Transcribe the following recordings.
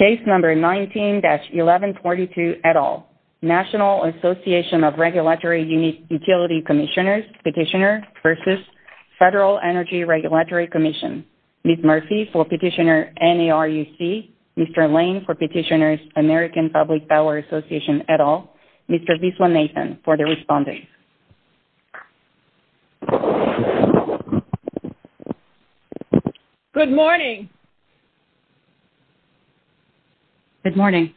19-1142, et al., National Association of Regulatory Utility Commissioners, Petitioner v. Federal Energy Regulatory Commission, Ms. Murphy for Petitioner N.A.R.U.C., Mr. Lane for Petitioner American Public Power Association, et al., Mr. Viswanathan for the respondents. Good morning. Good morning. Good morning,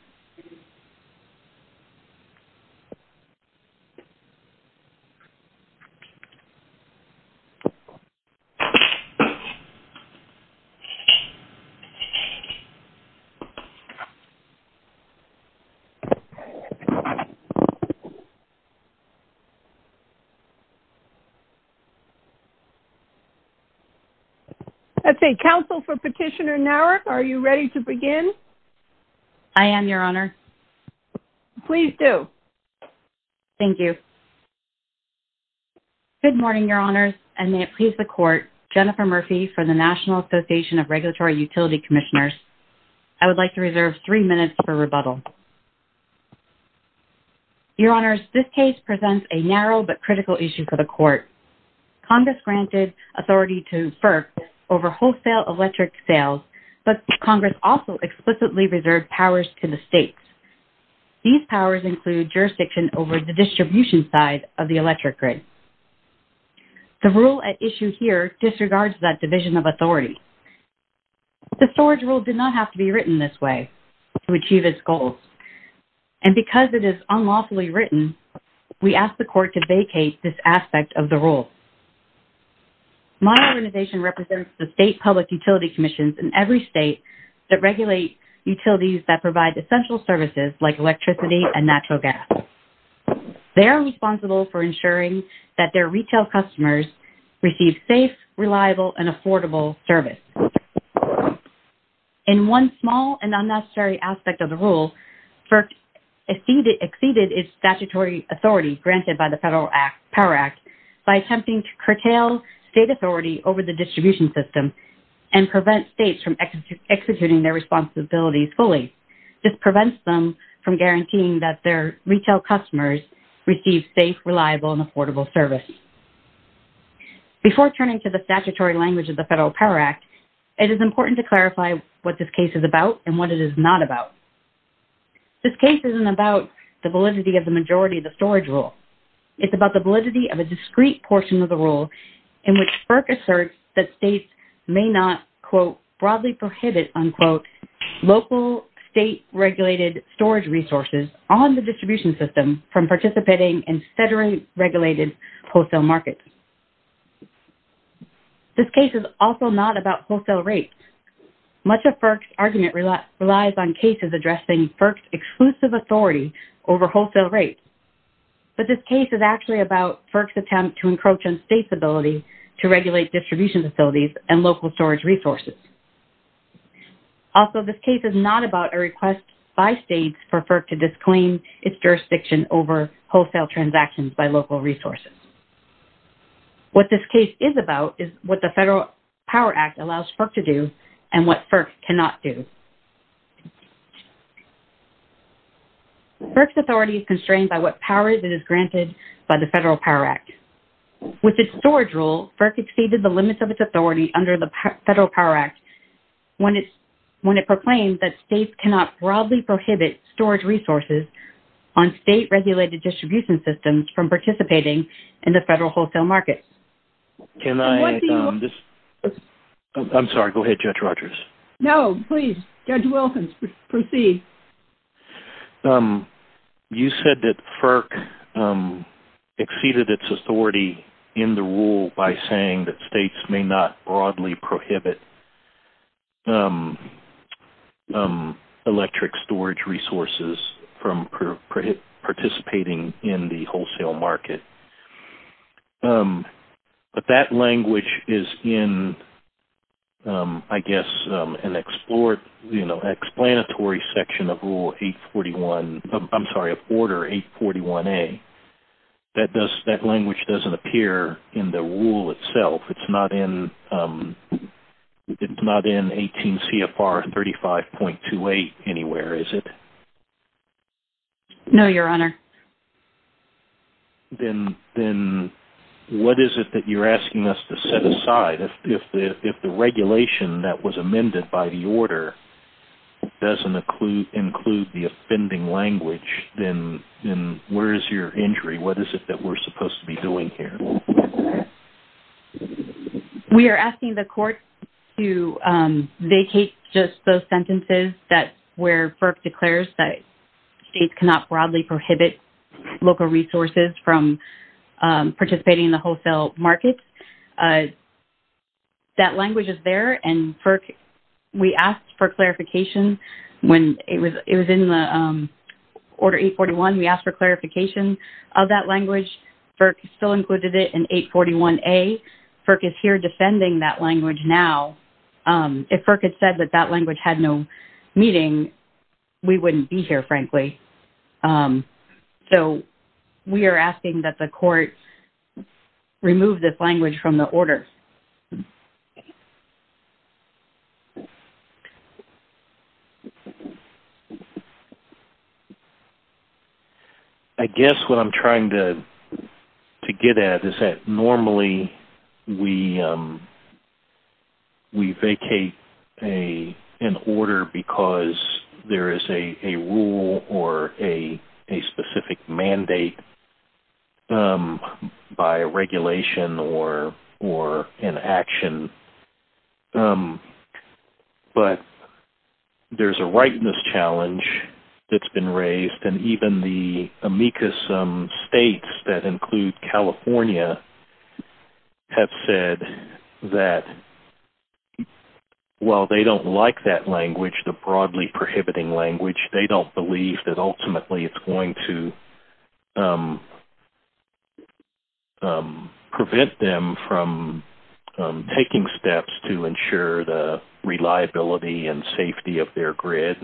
Your Honors, and may it please the Court, Jennifer Murphy from the National Association of Regulatory Utility Commissioners. I would like to reserve three minutes for rebuttal. Your Honors, this case presents a narrow but critical issue for the Court. Congress granted authority to FERC over wholesale electric sales, but Congress also explicitly reserved powers to the states. These powers include jurisdiction over the distribution side of the electric grid. The rule at issue here disregards that division of authority. The storage rule did not have to be written this way to achieve its goals. And because it is unlawfully written, we ask the Court to vacate this aspect of the rule. My organization represents the state public utility commissions in every state that regulate utilities that provide essential services like electricity and natural gas. They are responsible for ensuring that their retail customers receive safe, reliable, and affordable service. And one small and unnecessary aspect of the rule, FERC exceeded its statutory authority granted by the Federal Act, Power Act, by attempting to curtail state authority over the distribution system and prevent states from executing their responsibilities fully. This prevents them from guaranteeing that their retail customers receive safe, reliable, and affordable service. Before turning to the statutory language of the Federal Power Act, it is important to clarify what this case is about and what it is not about. This case isn't about the validity of the majority of the storage rule. It's about the validity of a discrete portion of the rule in which FERC asserts that states may not, quote, broadly prohibit, unquote, local state regulated storage resources on the distribution system from participating in federally regulated wholesale markets. This case is also not about wholesale rates. Much of FERC's argument relies on cases addressing FERC's exclusive authority over wholesale rates. But this case is actually about FERC's attempt to encroach on states' ability to regulate distribution facilities and local storage resources. Also, this case is not about a request by states for FERC to disclaim its jurisdiction over wholesale transactions by local resources. What this case is about is what the Federal Power Act allows FERC to do and what FERC cannot do. FERC's authority is constrained by what power that is granted by the Federal Power Act. With its storage rule, FERC exceeded the limits of its authority under the Federal Power Act when it proclaimed that states cannot broadly prohibit storage resources on state regulated distribution systems from participating in the federal wholesale market. Can I... I'm sorry. Go ahead, Judge Rogers. No, please. Judge Wilson, proceed. You said that FERC exceeded its authority in the rule by saying that states may not broadly prohibit electric storage resources from participating in the wholesale market. But that language is in, I guess, an explanatory section of Rule 841... I'm sorry, of Order 841A. That language doesn't appear in the rule itself. It's not in 18 CFR 35.28 anywhere, is it? No, Your Honor. Then what is it that you're asking us to set aside? If the regulation that was amended by the order doesn't include the offending language, then where is your injury? What is it that we're supposed to be doing here? We are asking the court to vacate just those sentences where FERC declares that states cannot broadly prohibit local resources from participating in the wholesale market. That language is there. And FERC, we asked for clarification when it was in the Order 841. We asked for clarification of that language. FERC still included it in 841A. FERC is here defending that language now. If FERC had said that that language had no meaning, we wouldn't be here, frankly. So we are asking that the court remove this language from the order. I guess what I'm trying to get at is that normally we vacate an order because there is a rule or a specific mandate by regulation or in action, but there's a rightness challenge that's been raised, and even the amicus states that include California have said that while they don't like that language, the broadly prohibiting language, they don't believe that ultimately it's going to prevent them from taking steps to ensure the reliability and safety of their grid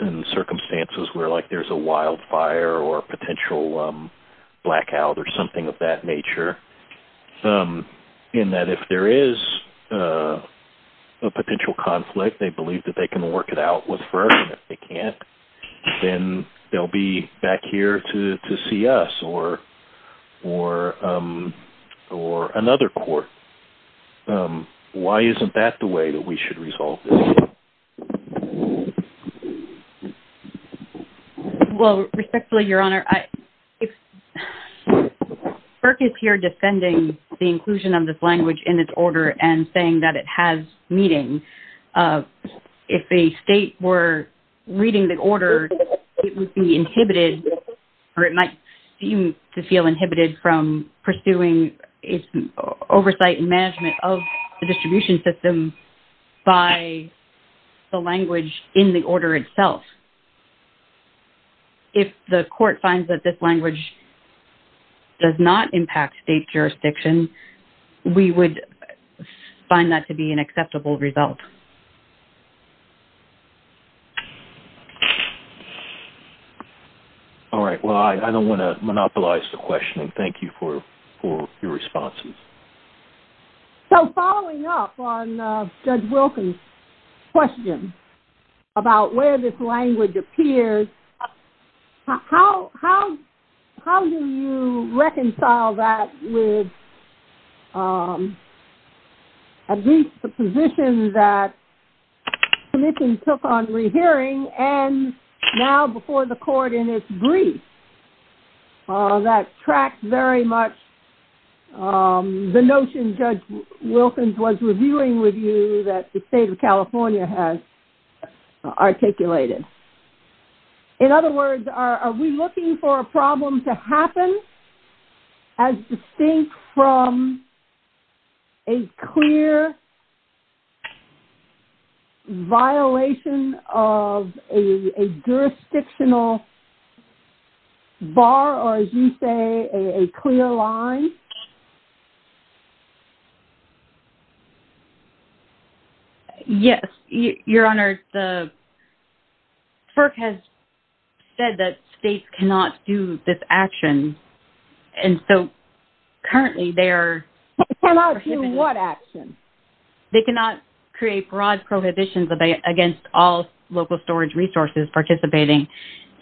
in circumstances where there's a wildfire or a potential blackout or something of that nature. In that if there is a potential conflict, they believe that they can work it out with FERC, and if they can't, then they'll be back here to see us or another court. Why isn't that the way that we should resolve this? Well, respectfully, Your Honor, if FERC is here defending the inclusion of this language in its order and saying that it has meaning, if the state were reading the order, it would be inhibited or it might seem to feel inhibited from pursuing its oversight and management of the distribution system by the language in the order itself. If the court finds that this language does not impact state jurisdiction, we would find that to be an acceptable result. All right. Well, I don't want to monopolize the questioning. Thank you for your responses. So following up on Judge Wilkins' question about where this language appears, how do you reconcile that with at least the position that the Commission took on rehearing and now before the court in its brief that tracks very much the notion Judge Wilkins was reviewing with you that the state of California has articulated? In other words, are we looking for a problem to happen as distinct from a clear violation of a jurisdictional bar or, as you say, a clear line? Yes, Your Honor. The FERC has said that states cannot do this action. And so currently they are... Cannot do what action? They cannot create broad prohibitions against all local storage resources participating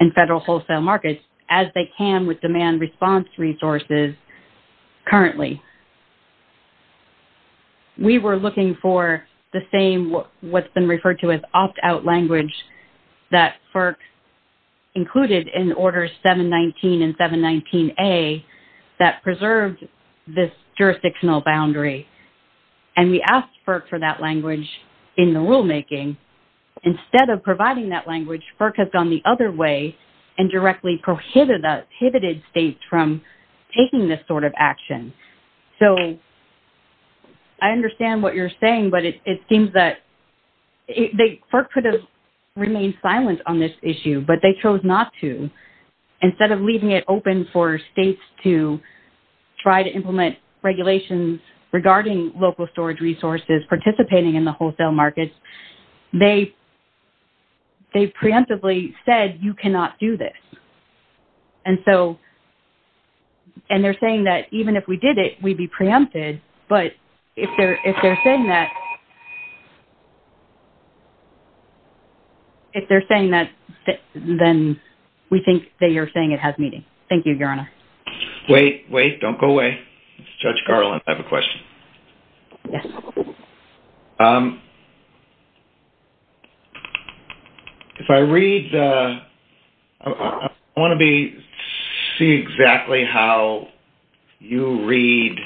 in federal wholesale markets as they can with demand response resources currently. We were looking for the same what's been referred to as opt-out language that FERC included in Order 719 and 719A that preserves this jurisdictional boundary and we asked FERC for that language in the rulemaking. Instead of providing that language, FERC has gone the other way and directly prohibited states from taking this sort of action. So I understand what you're saying, but it seems that... FERC could have remained silent on this issue, but they chose not to. Instead of leaving it open for states to try to implement regulations regarding local storage resources participating in the wholesale markets, they preemptively said you cannot do this. And so... And they're saying that even if we did it, we'd be preempted, but if they're saying that... Thank you, Your Honor. Wait, wait, don't go away. Judge Garland, I have a question. Yes. If I read the... I want to see exactly how you read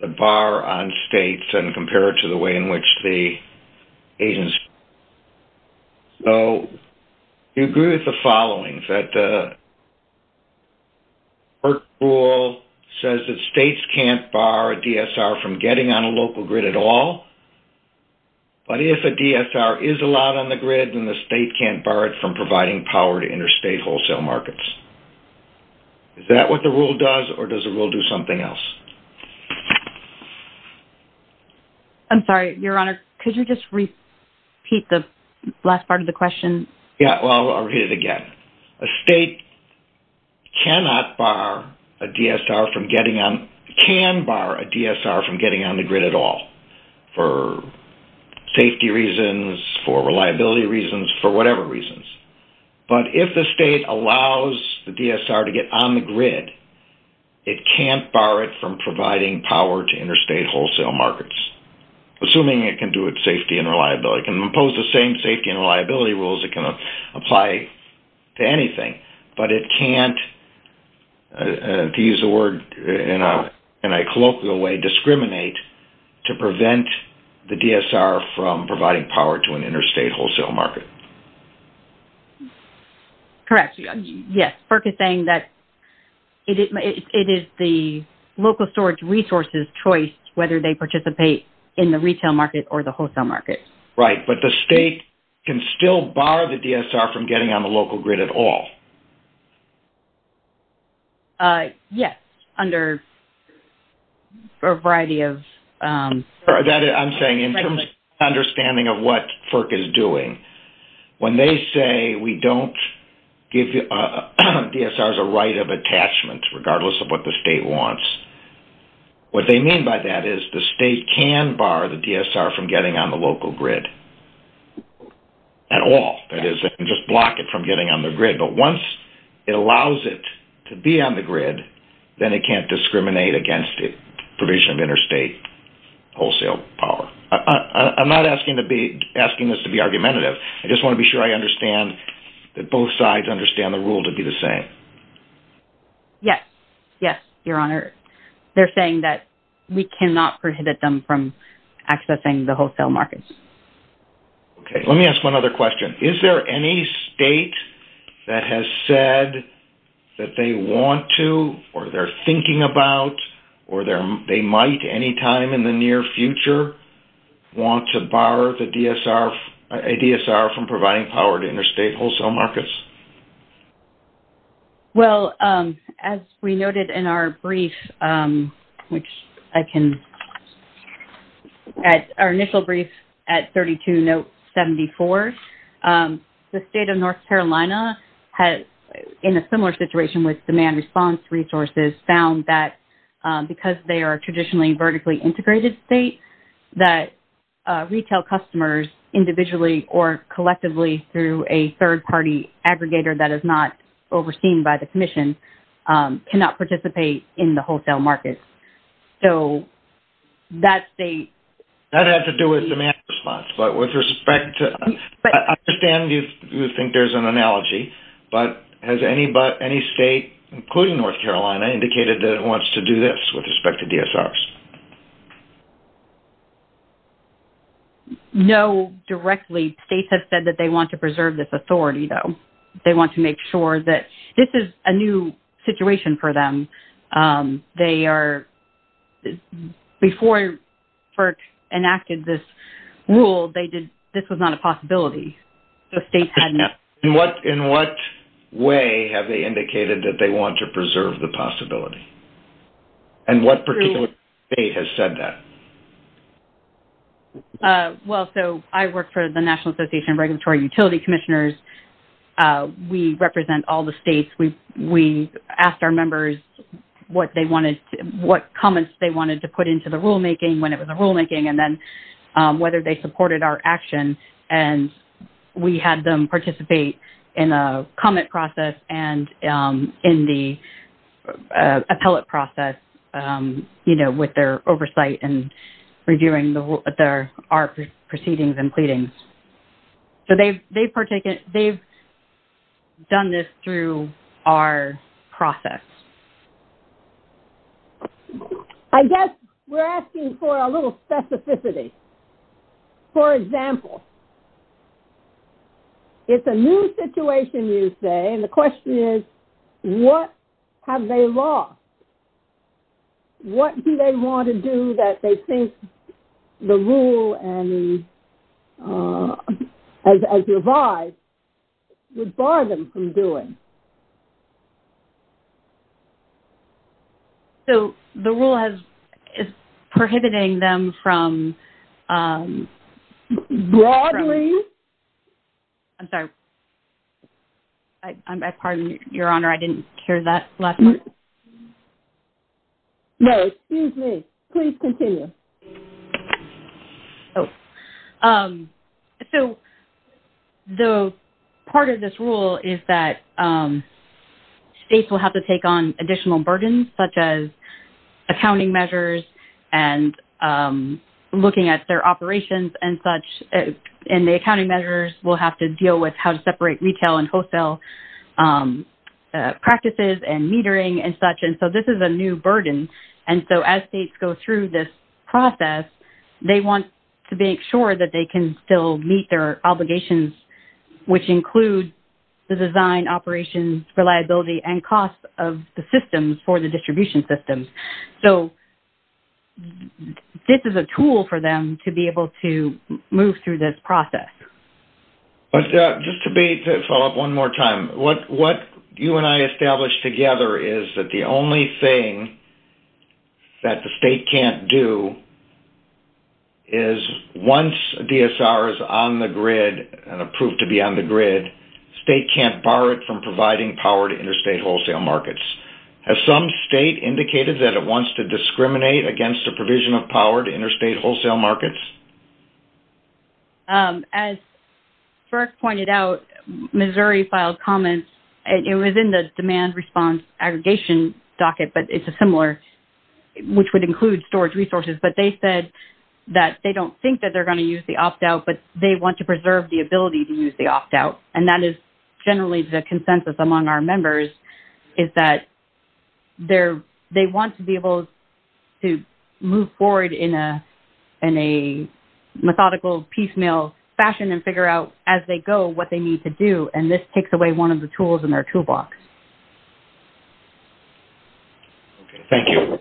the bar on states and compare it to the way in which the agency... So we agree with the following, that the FERC rule says that states can't bar a DSR from getting on a local grid at all, but if a DSR is allowed on the grid, then the state can't bar it from providing power to interstate wholesale markets. Is that what the rule does, or does the rule do something else? I'm sorry, Your Honor. Could you just repeat the last part of the question? Yeah, well, I'll read it again. A state cannot bar a DSR from getting on... can bar a DSR from getting on the grid at all for safety reasons, for reliability reasons, for whatever reasons. But if the state allows the DSR to get on the grid, it can't bar it from providing power to interstate wholesale markets, assuming it can do it safety and reliability. It can impose the same safety and reliability rules it can apply to anything, but it can't, to use the word in a colloquial way, discriminate to prevent the DSR from providing power to an interstate wholesale market. Correct. Yes, FERC is saying that it is the local storage resources' choice whether they participate in the retail market or the wholesale market. Right, but the state can still bar the DSR from getting on the local grid at all. Yes, under a variety of... I'm saying in terms of understanding of what FERC is doing, when they say we don't give DSRs a right of attachment, regardless of what the state wants, what they mean by that is the state can bar the DSR from getting on the local grid at all. That is, they can just block it from getting on the grid. But once it allows it to be on the grid, then it can't discriminate against the provision of interstate wholesale power. I'm not asking this to be argumentative. I just want to be sure I understand that both sides understand the rule to be the same. Yes, yes, Your Honor. They're saying that we cannot prohibit them from accessing the wholesale markets. Okay, let me ask one other question. Is there any state that has said that they want to or they're thinking about or they might any time in the near future want to bar a DSR from providing power to interstate wholesale markets? Well, as we noted in our brief, our initial brief at 32.74, the state of North Carolina, in a similar situation with demand response resources, found that because they are a traditionally vertically integrated state, that retail customers individually or collectively through a third-party aggregator that is not overseen by the Commission cannot participate in the wholesale markets. So that state... That had to do with demand response, but with respect to... I understand you think there's an analogy, but has any state, including North Carolina, indicated that it wants to do this with respect to DSRs? No, directly. The states have said that they want to preserve this authority, though. They want to make sure that this is a new situation for them. They are... Before FERC enacted this rule, this was not a possibility. In what way have they indicated that they want to preserve the possibility? And what particular state has said that? Well, so I work for the National Association of Regulatory Utility Commissioners. We represent all the states. We asked our members what comments they wanted to put into the rulemaking, when it was a rulemaking, and then whether they supported our action. And we had them participate in a comment process and in the appellate process, you know, with their oversight and reviewing our proceedings and pleadings. So they've done this through our process. I guess we're asking for a little specificity. For example, it's a new situation, you say, and the question is, what have they lost? What do they want to do that they think the rule, as revised, would bar them from doing? So the rule is prohibiting them from... Broadly... I'm sorry. I pardon you, Your Honor. I didn't hear that last part. No, excuse me. Please continue. Oh. So part of this rule is that states will have to take on additional burdens, such as accounting measures and looking at their operations and such. And the accounting measures will have to deal with how to separate retail and wholesale practices and metering and such. And so this is a new burden. And so as states go through this process, they want to make sure that they can still meet their obligations, which include the design, operations, reliability, and cost of the systems for the distribution systems. So this is a tool for them to be able to move through this process. Just to follow up one more time, what you and I established together is that the only thing that the state can't do is once DSR is on the grid and approved to be on the grid, states can't bar it from providing power to interstate wholesale markets. Has some state indicated that it wants to discriminate against the provision of power to interstate wholesale markets? As Burke pointed out, Missouri filed comments, and it was in the demand response aggregation docket, but it's a similar, which would include storage resources. But they said that they don't think that they're going to use the opt-out, but they want to preserve the ability to use the opt-out. And that is generally the consensus among our members, is that they want to be able to move forward in a methodical, piecemeal fashion and figure out as they go what they need to do, and this takes away one of the tools in their toolbox. Thank you.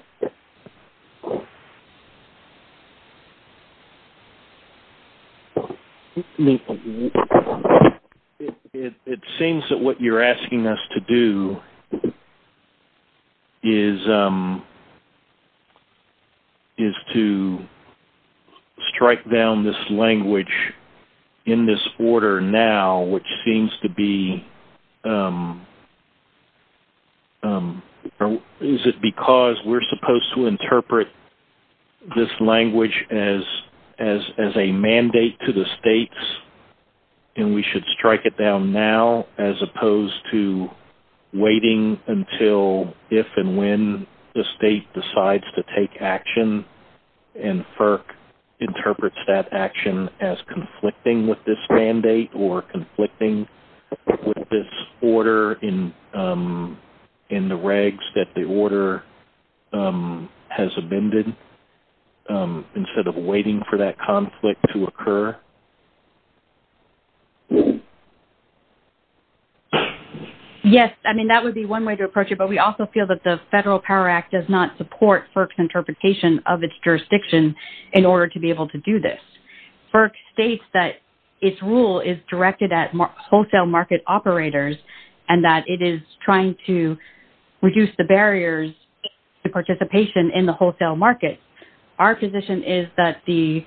Thank you. It seems that what you're asking us to do is to strike down this language in this order now, which seems to be... Is it because we're supposed to interpret this language as a mandate to the states and we should strike it down now as opposed to waiting until if and when the state decides to take action and FERC interprets that action as conflicting with this mandate or conflicting with this order in the regs that the order has amended, instead of waiting for that conflict to occur? Yes. I mean, that would be one way to approach it, but we also feel that the Federal Power Act does not support FERC's interpretation of its jurisdiction in order to be able to do this. FERC states that its rule is directed at wholesale market operators and that it is trying to reduce the barriers to participation in the wholesale market. Our position is that the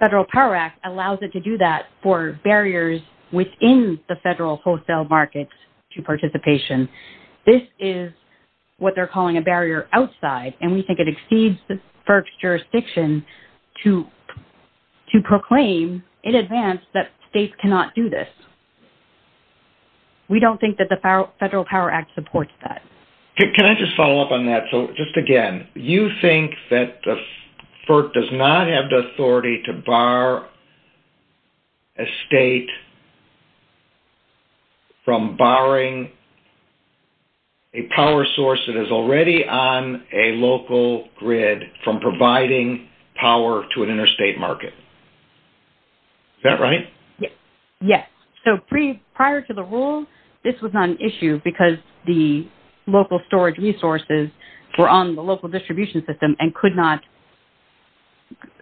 Federal Power Act allows it to do that for barriers within the federal wholesale markets to participation. This is what they're calling a barrier outside and we think it exceeds FERC's jurisdiction to proclaim in advance that states cannot do this. We don't think that the Federal Power Act supports that. Can I just follow up on that? Just again, you think that FERC does not have the authority to bar a state from barring a power source that is already on a local grid from providing power to an interstate market. Is that right? Yes. So prior to the rule, this was not an issue because the local storage resources were on the local distribution system and could not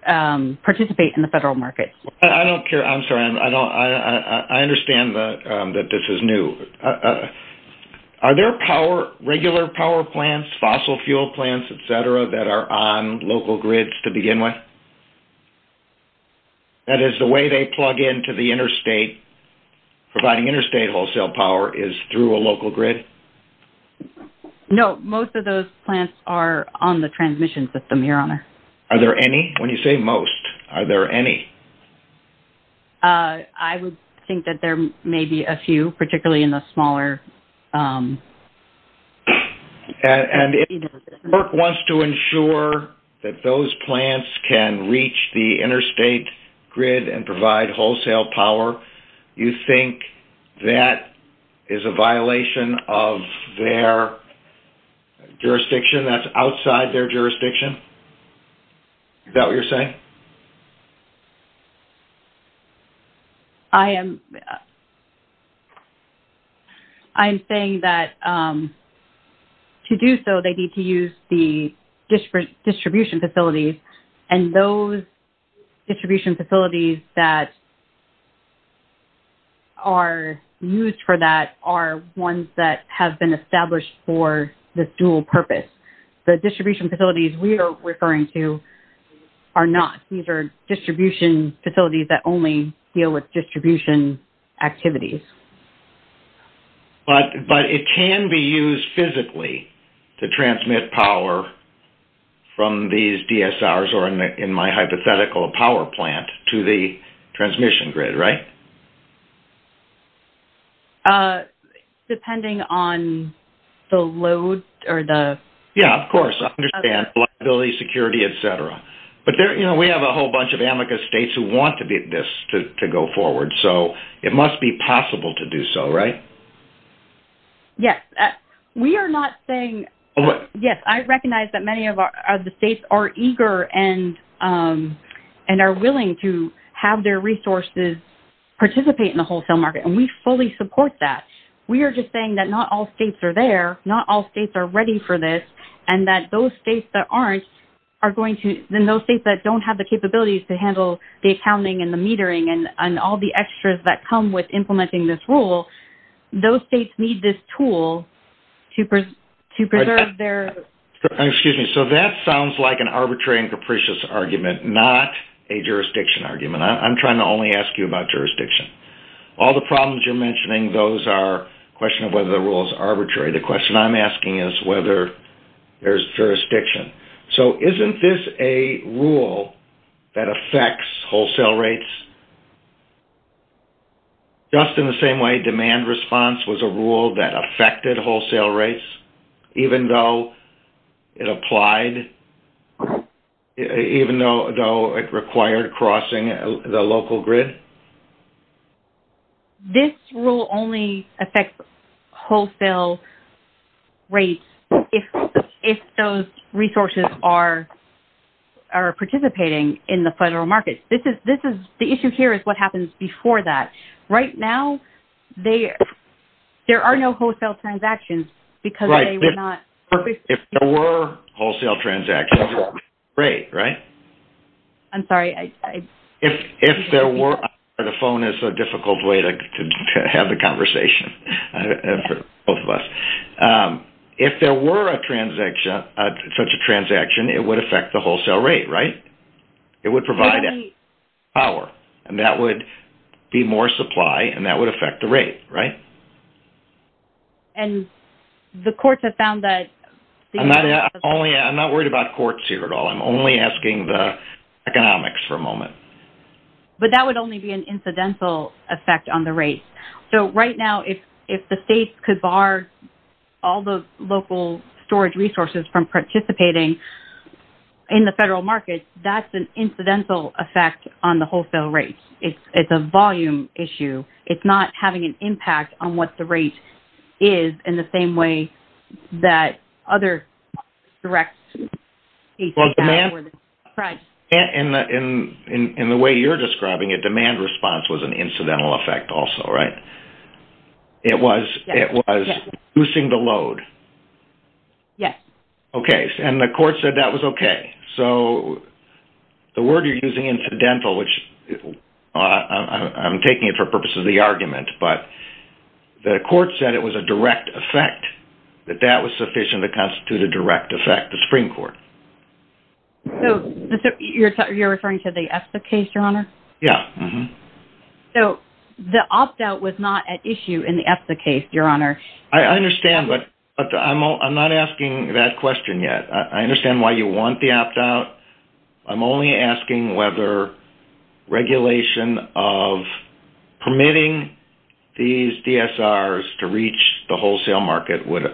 participate in the federal market. I don't care. I'm sorry. I understand that this is new. Are there regular power plants, fossil fuel plants, et cetera, that are on local grids to begin with? That is the way they plug into the interstate, providing interstate wholesale power is through a local grid? No. Most of those plants are on the transmission system, Your Honor. Are there any? When you say most, are there any? I would think that there may be a few, particularly in the smaller... And if FERC wants to ensure that those plants can reach the interstate grid and provide wholesale power, you think that is a violation of their jurisdiction, that's outside their jurisdiction? Is that what you're saying? Okay. I am saying that to do so, they need to use the distribution facilities, and those distribution facilities that are used for that are ones that have been established for this dual purpose. The distribution facilities we are referring to are not. These are distribution facilities that only deal with distribution activities. But it can be used physically to transmit power from these DSRs or in my hypothetical a power plant to the transmission grid, right? Depending on the load or the... Yeah, of course. I understand. Liability, security, et cetera. But we have a whole bunch of amicus states who want this to go forward, so it must be possible to do so, right? Yes. We are not saying... Yes, I recognize that many of the states are eager and are willing to have their resources participate in the wholesale market, and we fully support that. We are just saying that not all states are there, not all states are ready for this, and that those states that aren't are going to... And those states that don't have the capabilities to handle the accounting and the metering and all the extras that come with implementing this rule, those states need this tool to preserve their... Excuse me. So that sounds like an arbitrary and capricious argument, not a jurisdiction argument. I'm trying to only ask you about jurisdiction. All the problems you're mentioning, those are a question of whether the rule is arbitrary. The question I'm asking is whether there's jurisdiction. So isn't this a rule that affects wholesale rates? Just in the same way demand response was a rule that affected wholesale rates, even though it applied, even though it required crossing the local grid? This rule only affects wholesale rates if those resources are participating in the federal market. The issue here is what happens before that. Right now there are no wholesale transactions because they were not... Right. If there were wholesale transactions, it would affect the rate, right? I'm sorry. If there were... The phone is a difficult way to have the conversation for both of us. If there were such a transaction, it would affect the wholesale rate, right? It would provide power, and that would be more supply, and that would affect the rate, right? And the courts have found that... I'm not worried about courts here at all. I'm only asking the economics for a moment. But that would only be an incidental effect on the rate. So right now if the states could bar all the local storage resources from participating in the federal market, that's an incidental effect on the wholesale rate. It's a volume issue. It's not having an impact on what the rate is in the same way that other direct states... In the way you're describing it, demand response was an incidental effect also, right? It was reducing the load. Yes. Okay. And the court said that was okay. So the word you're using, incidental, which I'm taking it for purposes of the argument, but the court said it was a direct effect, that that was sufficient to constitute a direct effect, the Supreme Court. So you're referring to the ESSA case, Your Honor? Yes. So the opt-out was not at issue in the ESSA case, Your Honor. I understand, but I'm not asking that question yet. I understand why you want the opt-out. I'm only asking whether regulation of permitting these DSRs to reach the wholesale market would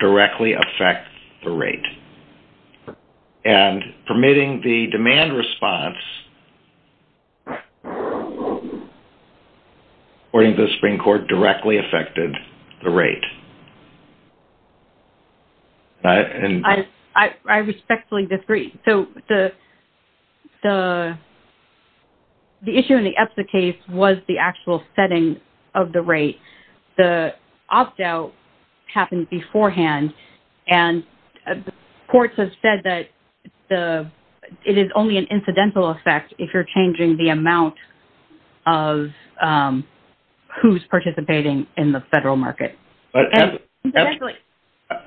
directly affect the rate. And permitting the demand response, according to the Supreme Court, directly affected the rate. I respectfully disagree. So the issue in the ESSA case was the actual setting of the rate. The opt-out happened beforehand, and the courts have said that it is only an incidental effect if you're changing the amount of who's participating in the federal market. But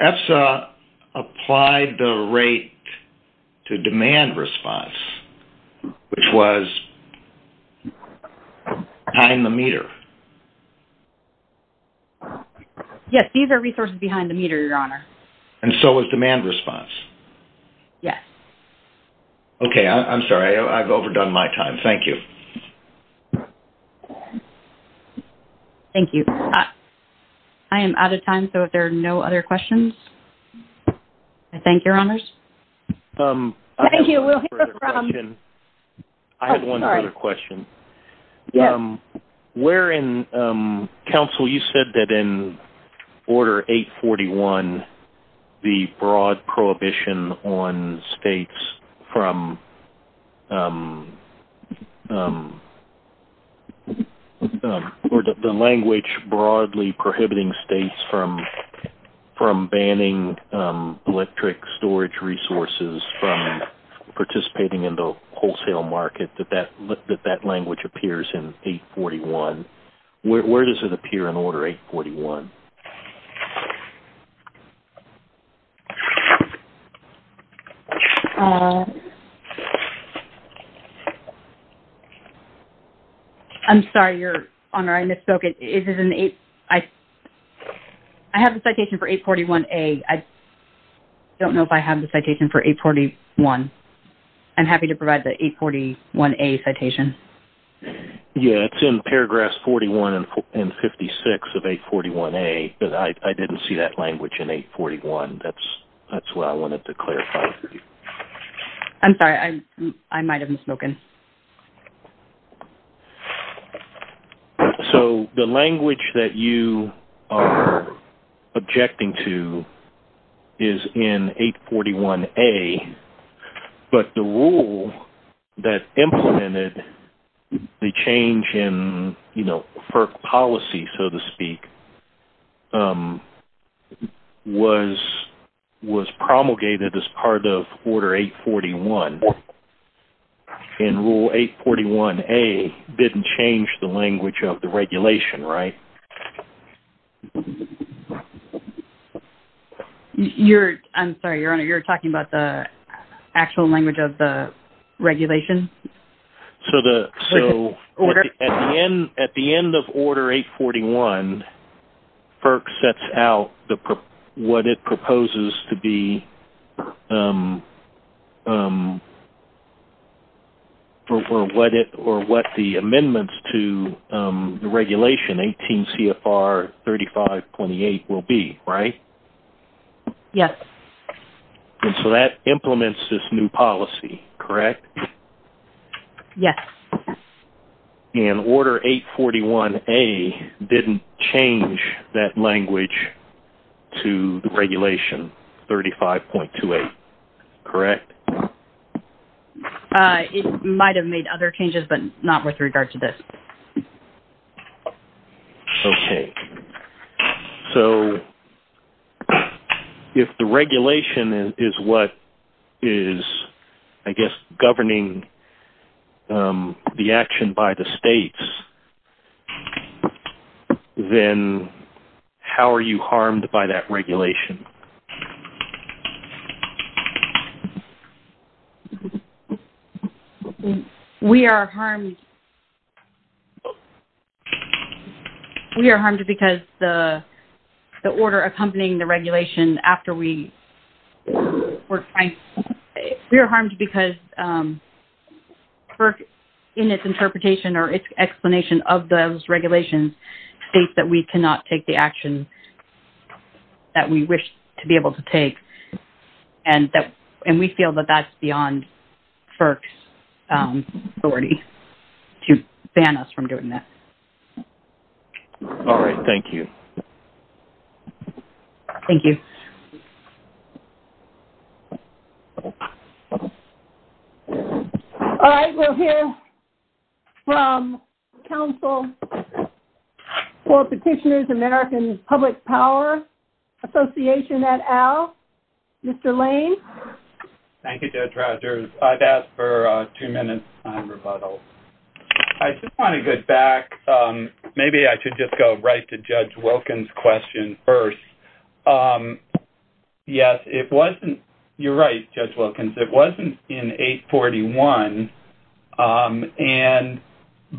ESSA applied the rate to demand response, which was behind the meter. Yes, these are resources behind the meter, Your Honor. And so was demand response. Yes. Okay, I'm sorry, I've overdone my time. Thank you. Thank you. I am out of time, so if there are no other questions, I thank Your Honors. Thank you, we'll hear from you. I have one other question. Oh, sorry. Counsel, you said that in Order 841, the broad prohibition on states from the language broadly prohibiting states from banning electric storage resources from participating in the wholesale market, that that language appears in 841. Where does it appear in Order 841? I'm sorry, Your Honor, I misspoke. I have a citation for 841A. I don't know if I have the citation for 841. I'm happy to provide the 841A citation. Yes, it's in paragraphs 41 and 56 of 841A. I didn't see that language in 841. That's what I wanted to clarify. I'm sorry, I might have misspoken. So the language that you are objecting to is in 841A, but the rule that implemented the change in FERC policy, so to speak, was promulgated as part of Order 841. And Rule 841A didn't change the language of the regulation, right? I'm sorry, Your Honor, you're talking about the actual language of the regulation? So at the end of Order 841, FERC sets out what it proposes to be or what the amendments to the regulation, 18 CFR 35.28, will be, right? Yes. And so that implements this new policy, correct? Yes. And Order 841A didn't change that language to the regulation 35.28. Correct. It might have made other changes, but not with regard to this. Okay. So if the regulation is what is, I guess, governing the action by the states, then how are you harmed by that regulation? We are harmed... We are harmed because the order accompanying the regulation after we were trying... We are harmed because FERC, in its interpretation or its explanation of those regulations, states that we cannot take the action that we wish to be able to take. And we feel that that's beyond FERC's authority to ban us from doing that. All right. Thank you. Thank you. Thank you. All right. We'll hear from Council for Petitioners, American Public Power Association at Al. Mr. Lane? Thank you, Judge Rogers. I've asked for two minutes on rebuttal. I just want to go back. Maybe I should just go right to Judge Wilkins' question first. Yes, it wasn't... You're right, Judge Wilkins. It wasn't in 841,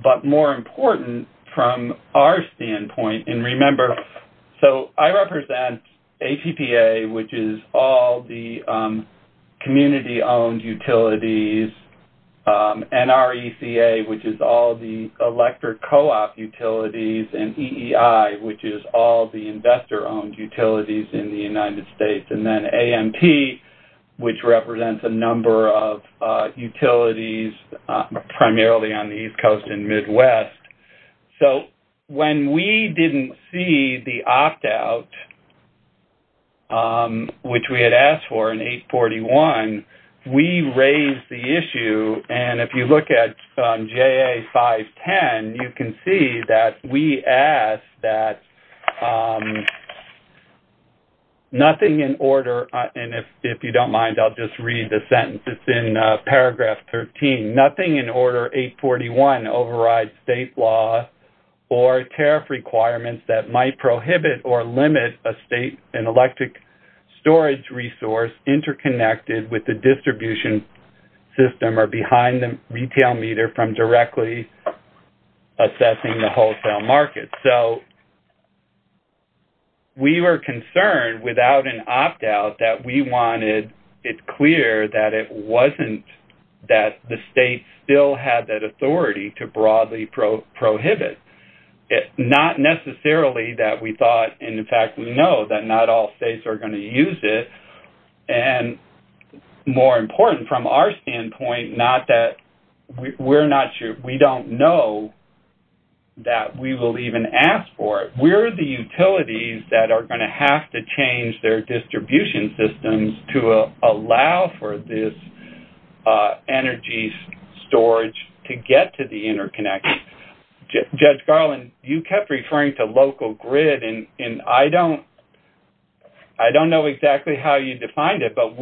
but more important from our standpoint, and remember, so I represent HEPA, which is all the community-owned utilities, NRECA, which is all the electric co-op utilities, and EEI, which is all the investor-owned utilities in the United States, and then AMP, which represents a number of utilities, primarily on the East Coast and Midwest. So when we didn't see the opt-out, which we had asked for in 841, we raised the issue. And if you look at J.A. 510, you can see that we asked that nothing in order, and if you don't mind, I'll just read the sentence. It's in paragraph 13. Nothing in order 841 overrides state law or tariff requirements that might prohibit or limit an electric storage resource interconnected with the distribution system or behind the retail meter from directly assessing the wholesale market. So we were concerned without an opt-out that we wanted it clear that it wasn't that the state still had that authority to broadly prohibit, not necessarily that we thought, and in fact we know, that not all states are going to use it and more important from our standpoint, not that we're not sure, we don't know that we will even ask for it. We're the utilities that are going to have to change their distribution systems to allow for this energy storage to get to the interconnect. Judge Garland, you kept referring to local grid, and I don't know exactly how you defined it, but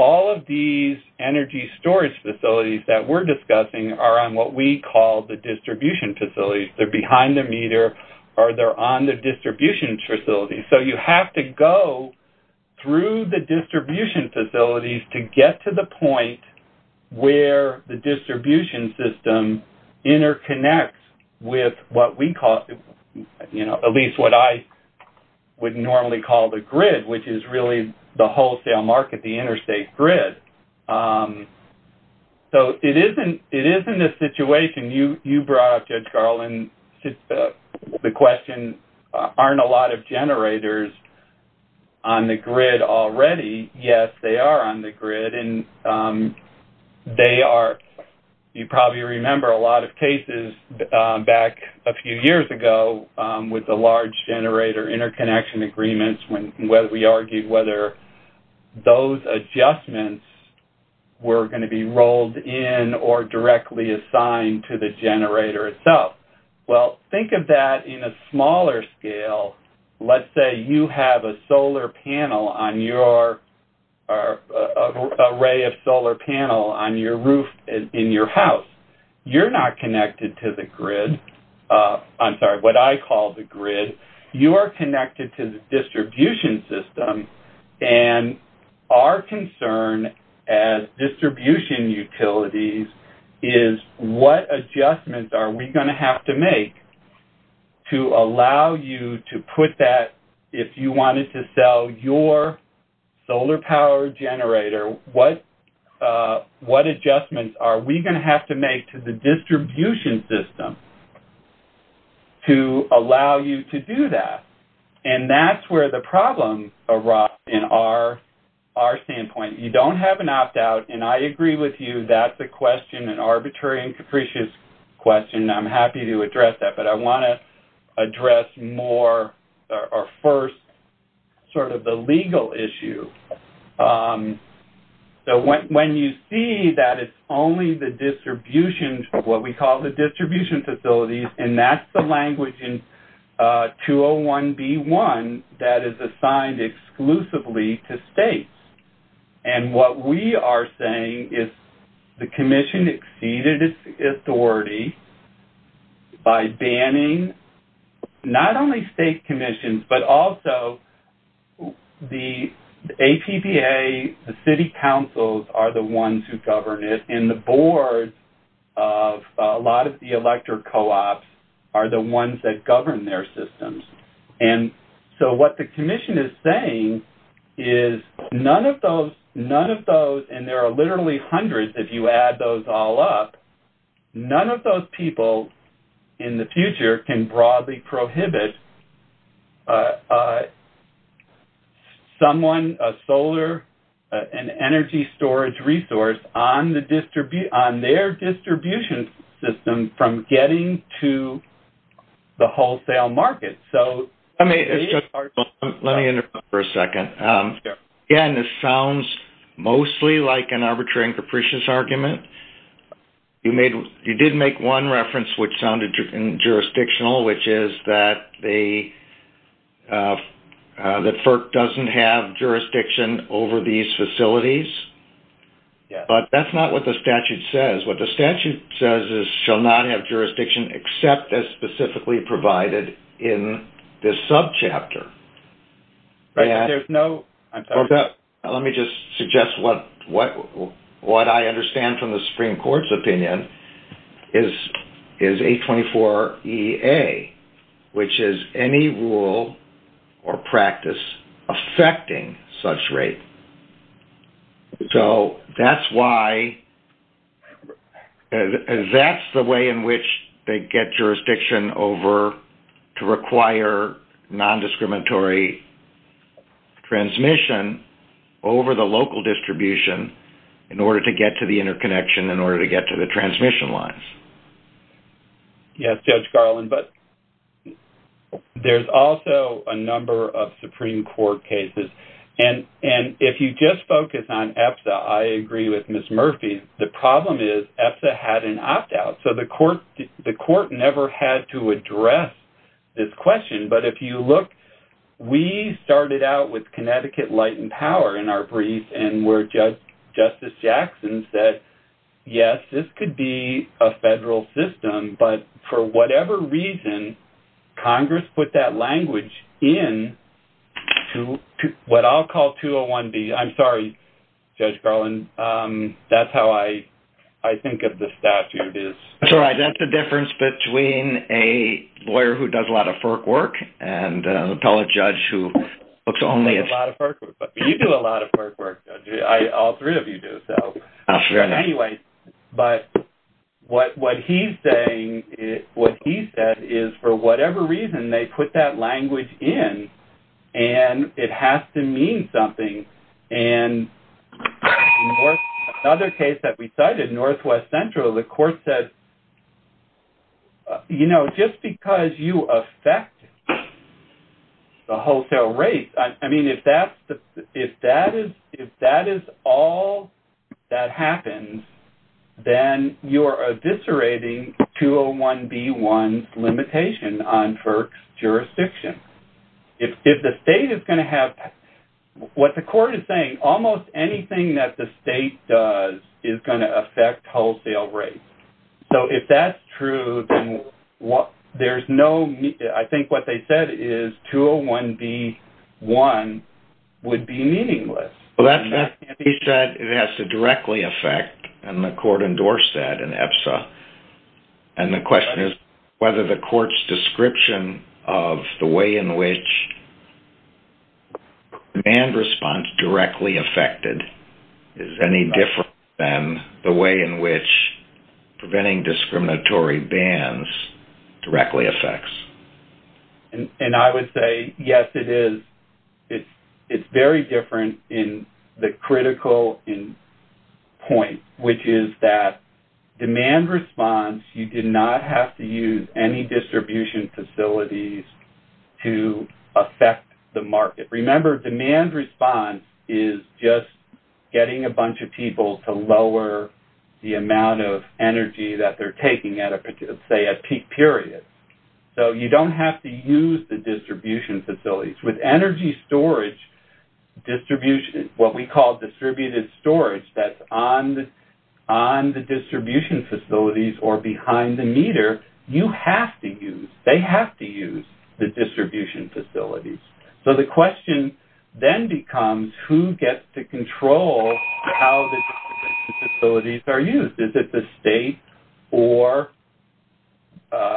all of these energy storage facilities that we're discussing are on what we call the distribution facilities. They're behind the meter or they're on the distribution facility. So you have to go through the distribution facilities to get to the point where the distribution system interconnects with what we call, at least what I would normally call the grid, which is really the wholesale market, the interstate grid. So it is in this situation. You brought up, Judge Garland, the question, aren't a lot of generators on the grid already? Yes, they are on the grid. You probably remember a lot of cases back a few years ago with the large generator interconnection agreements where we argued whether those adjustments were going to be rolled in or directly assigned to the generator itself. Well, think of that in a smaller scale. Let's say you have an array of solar panel on your roof in your house. You're not connected to the grid. I'm sorry, what I call the grid. You are connected to the distribution system, and our concern as distribution utilities is what adjustments are we going to have to make to allow you to put that, if you wanted to sell your solar power generator, what adjustments are we going to have to make to the distribution system to allow you to do that? And that's where the problems arise in our standpoint. You don't have an opt-out, and I agree with you, that's a question, an arbitrary and capricious question. I'm happy to address that. But I want to address more our first sort of the legal issue. When you see that it's only the distribution, what we call the distribution facilities, and that's the language in 201B1 that is assigned exclusively to states. And what we are saying is the commission exceeded its authority by banning not only state commissions, but also the APPA, the city councils are the ones who govern it, and the boards of a lot of the electric co-ops are the ones that govern their systems. And so what the commission is saying is none of those, and there are literally hundreds if you add those all up, none of those people in the future can broadly prohibit someone, a solar and energy storage resource on their distribution system from getting to the wholesale market. Let me interrupt for a second. Again, this sounds mostly like an arbitrary and capricious argument. You did make one reference which sounded jurisdictional, which is that FERC doesn't have jurisdiction over these facilities. But that's not what the statute says. What the statute says is shall not have jurisdiction except as specifically provided in this subchapter. Let me just suggest what I understand from the Supreme Court's opinion is 824EA, which is any rule or practice affecting such rate. So that's why, that's the way in which they get jurisdiction over to require nondiscriminatory transmission over the local distribution in order to get to the interconnection, in order to get to the transmission lines. Yes, Judge Garland, but there's also a number of Supreme Court cases. And if you just focus on EPSA, I agree with Ms. Murphy, the problem is EPSA had an opt-out. So the court never had to address this question. But if you look, we started out with Connecticut Light and Power in our brief and where Justice Jackson said, yes, this could be a federal system, but for whatever reason, Congress put that language in to what I'll call 201B. I'm sorry, Judge Garland, that's how I think of the statute is. That's all right. That's the difference between a lawyer who does a lot of FERC work and an appellate judge who looks only at FERC. You do a lot of FERC work, Judge. All three of you do. But what he's saying, what he said is for whatever reason, they put that language in and it has to mean something. And another case that we cited, Northwest Central, the court said, you know, just because you affect the wholesale rate, I mean, if that is all that happens, then you are eviscerating 201B1's limitation on FERC's jurisdiction. If the state is going to have, what the court is saying, almost anything that the state does is going to affect wholesale rates. So if that's true, then there's no, I think what they said is 201B1 would be meaningless. He said it has to directly affect, and the court endorsed that in EPSA. And the question is whether the court's description of the way in which demand response directly affected is any different than the way in which preventing discriminatory bans directly affects. And I would say, yes, it is. It's very different in the critical point, which is that demand response, you do not have to use any distribution facilities to affect the market. Remember, demand response is just getting a bunch of people to lower the energy that they're taking at, say, a peak period. So you don't have to use the distribution facilities. With energy storage distribution, what we call distributed storage, that's on the distribution facilities or behind the meter, you have to use, they have to use the distribution facilities. So the question then becomes who gets to control how the distribution facilities are used. Is it the state or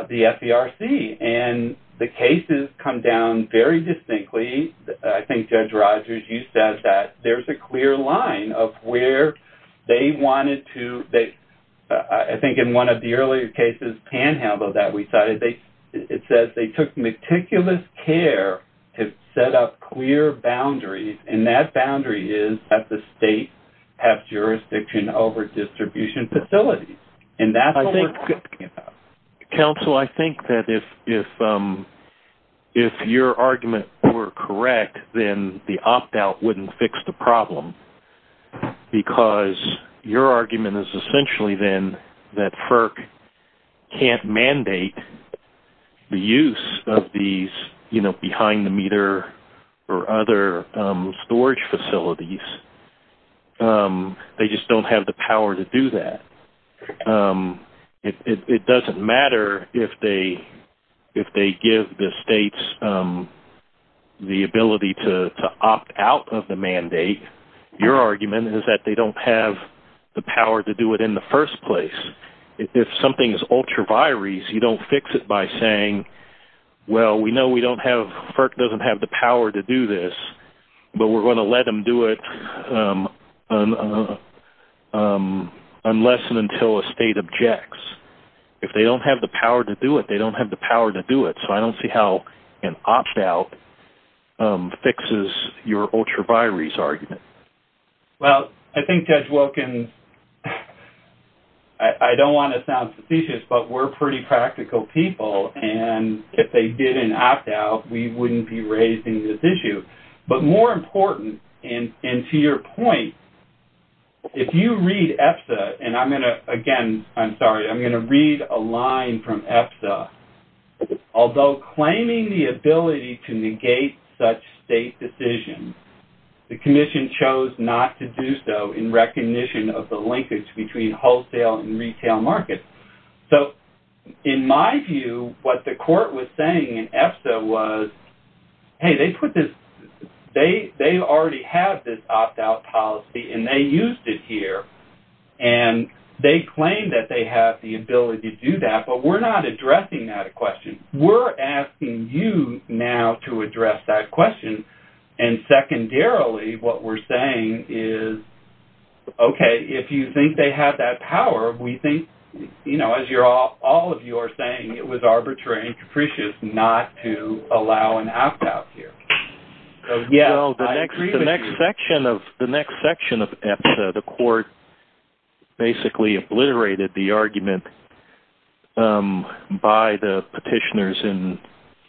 the FDRC? And the cases come down very distinctly. I think, Judge Rogers, you said that there's a clear line of where they wanted to, I think in one of the earlier cases, Panhandle, that we cited, it says they took meticulous care to set up clear boundaries, and that boundary is that the states have jurisdiction over distribution facilities, and that's what we're talking about. Counsel, I think that if your argument were correct, then the opt-out wouldn't fix the problem because your argument is essentially then that FERC can't mandate the use of these, you know, behind the meter or other storage facilities. They just don't have the power to do that. It doesn't matter if they give the states the ability to opt out of the mandate. Your argument is that they don't have the power to do it in the first place. If something is ultra-virus, you don't fix it by saying, well, we know FERC doesn't have the power to do this, but we're going to let them do it unless and until a state objects. If they don't have the power to do it, they don't have the power to do it. So I don't see how an opt-out fixes your ultra-virus argument. Well, I think, Judge Wilkins, I don't want to sound superstitious, but we're pretty practical people, and if they did an opt-out, we wouldn't be raising this issue. But more important, and to your point, if you read EFSA, and I'm going to, again, I'm sorry, I'm going to read a line from EFSA. Although claiming the ability to negate such state decisions, the commission chose not to do so in recognition of the linkage between So in my view, what the court was saying in EFSA was, hey, they put this, they already have this opt-out policy, and they used it here. And they claim that they have the ability to do that, but we're not addressing that question. We're asking you now to address that question. And secondarily, what we're saying is, okay, if you think they have that power, we think, you know, as all of you are saying, it was arbitrary and capricious not to allow an opt-out here. So, yeah, I agree with you. The next section of EFSA, the court basically obliterated the argument by the petitioners,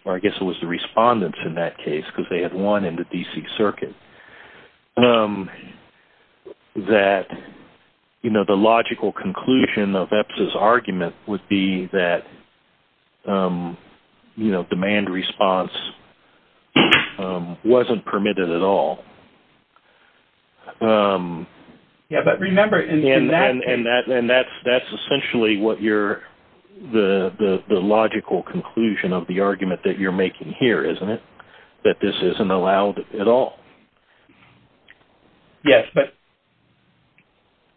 or I guess it was the respondents in that case because they had won in the D.C. Circuit, that, you know, the logical conclusion of EFSA's argument would be that, you know, demand response wasn't permitted at all. Yeah, but remember, in that... And that's essentially what you're, the logical conclusion of the argument that you're making here, isn't it? That this isn't allowed at all. Yes, but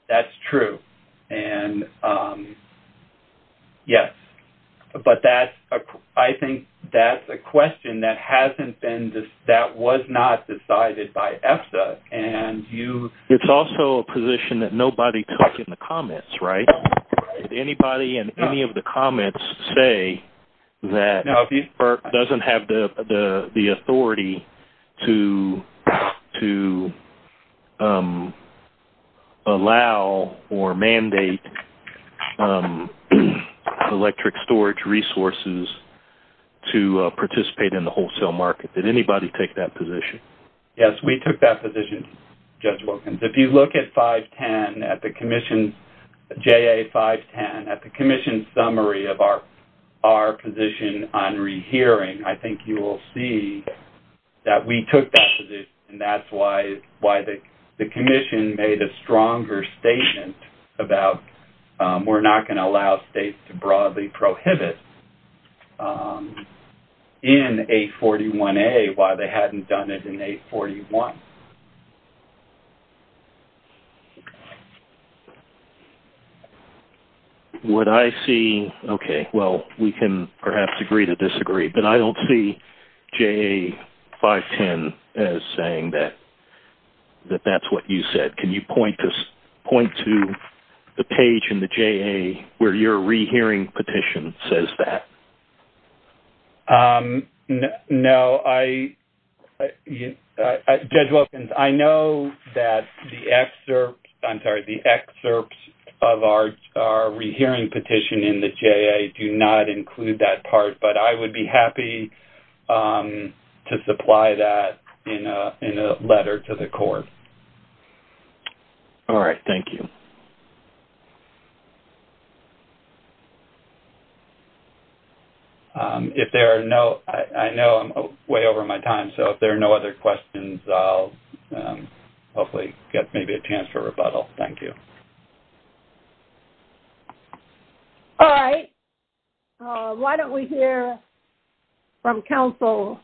that's true. And, yes, but that's, I think that's a question that hasn't been, that was not decided by EFSA. And you... It's also a position that nobody comes in the comments, right? Did anybody in any of the comments say that FERC doesn't have the authority to allow or mandate electric storage resources to participate in the wholesale market? Did anybody take that position? Yes, we took that position, Judge Wilkins. If you look at 510, at the Commission's, JA 510, at the Commission's summary of our position on rehearing, I think you will see that we took that position, and that's why the Commission made a stronger statement about we're not going to allow states to broadly prohibit in 841A while they hadn't done it in 841. What I see, okay, well, we can perhaps agree to disagree, but I don't see JA 510 as saying that that's what you said. Can you point to the page in the JA where your rehearing petition says that? No, I, Judge Wilkins, I know that the excerpts, I'm sorry, the excerpts of our rehearing petition in the JA do not include that part, but I would be happy to supply that in a letter to the Court. All right, thank you. If there are no, I know I'm way over my time, so if there are no other questions, I'll hopefully get maybe a chance for rebuttal. Thank you. All right. Why don't we hear from Council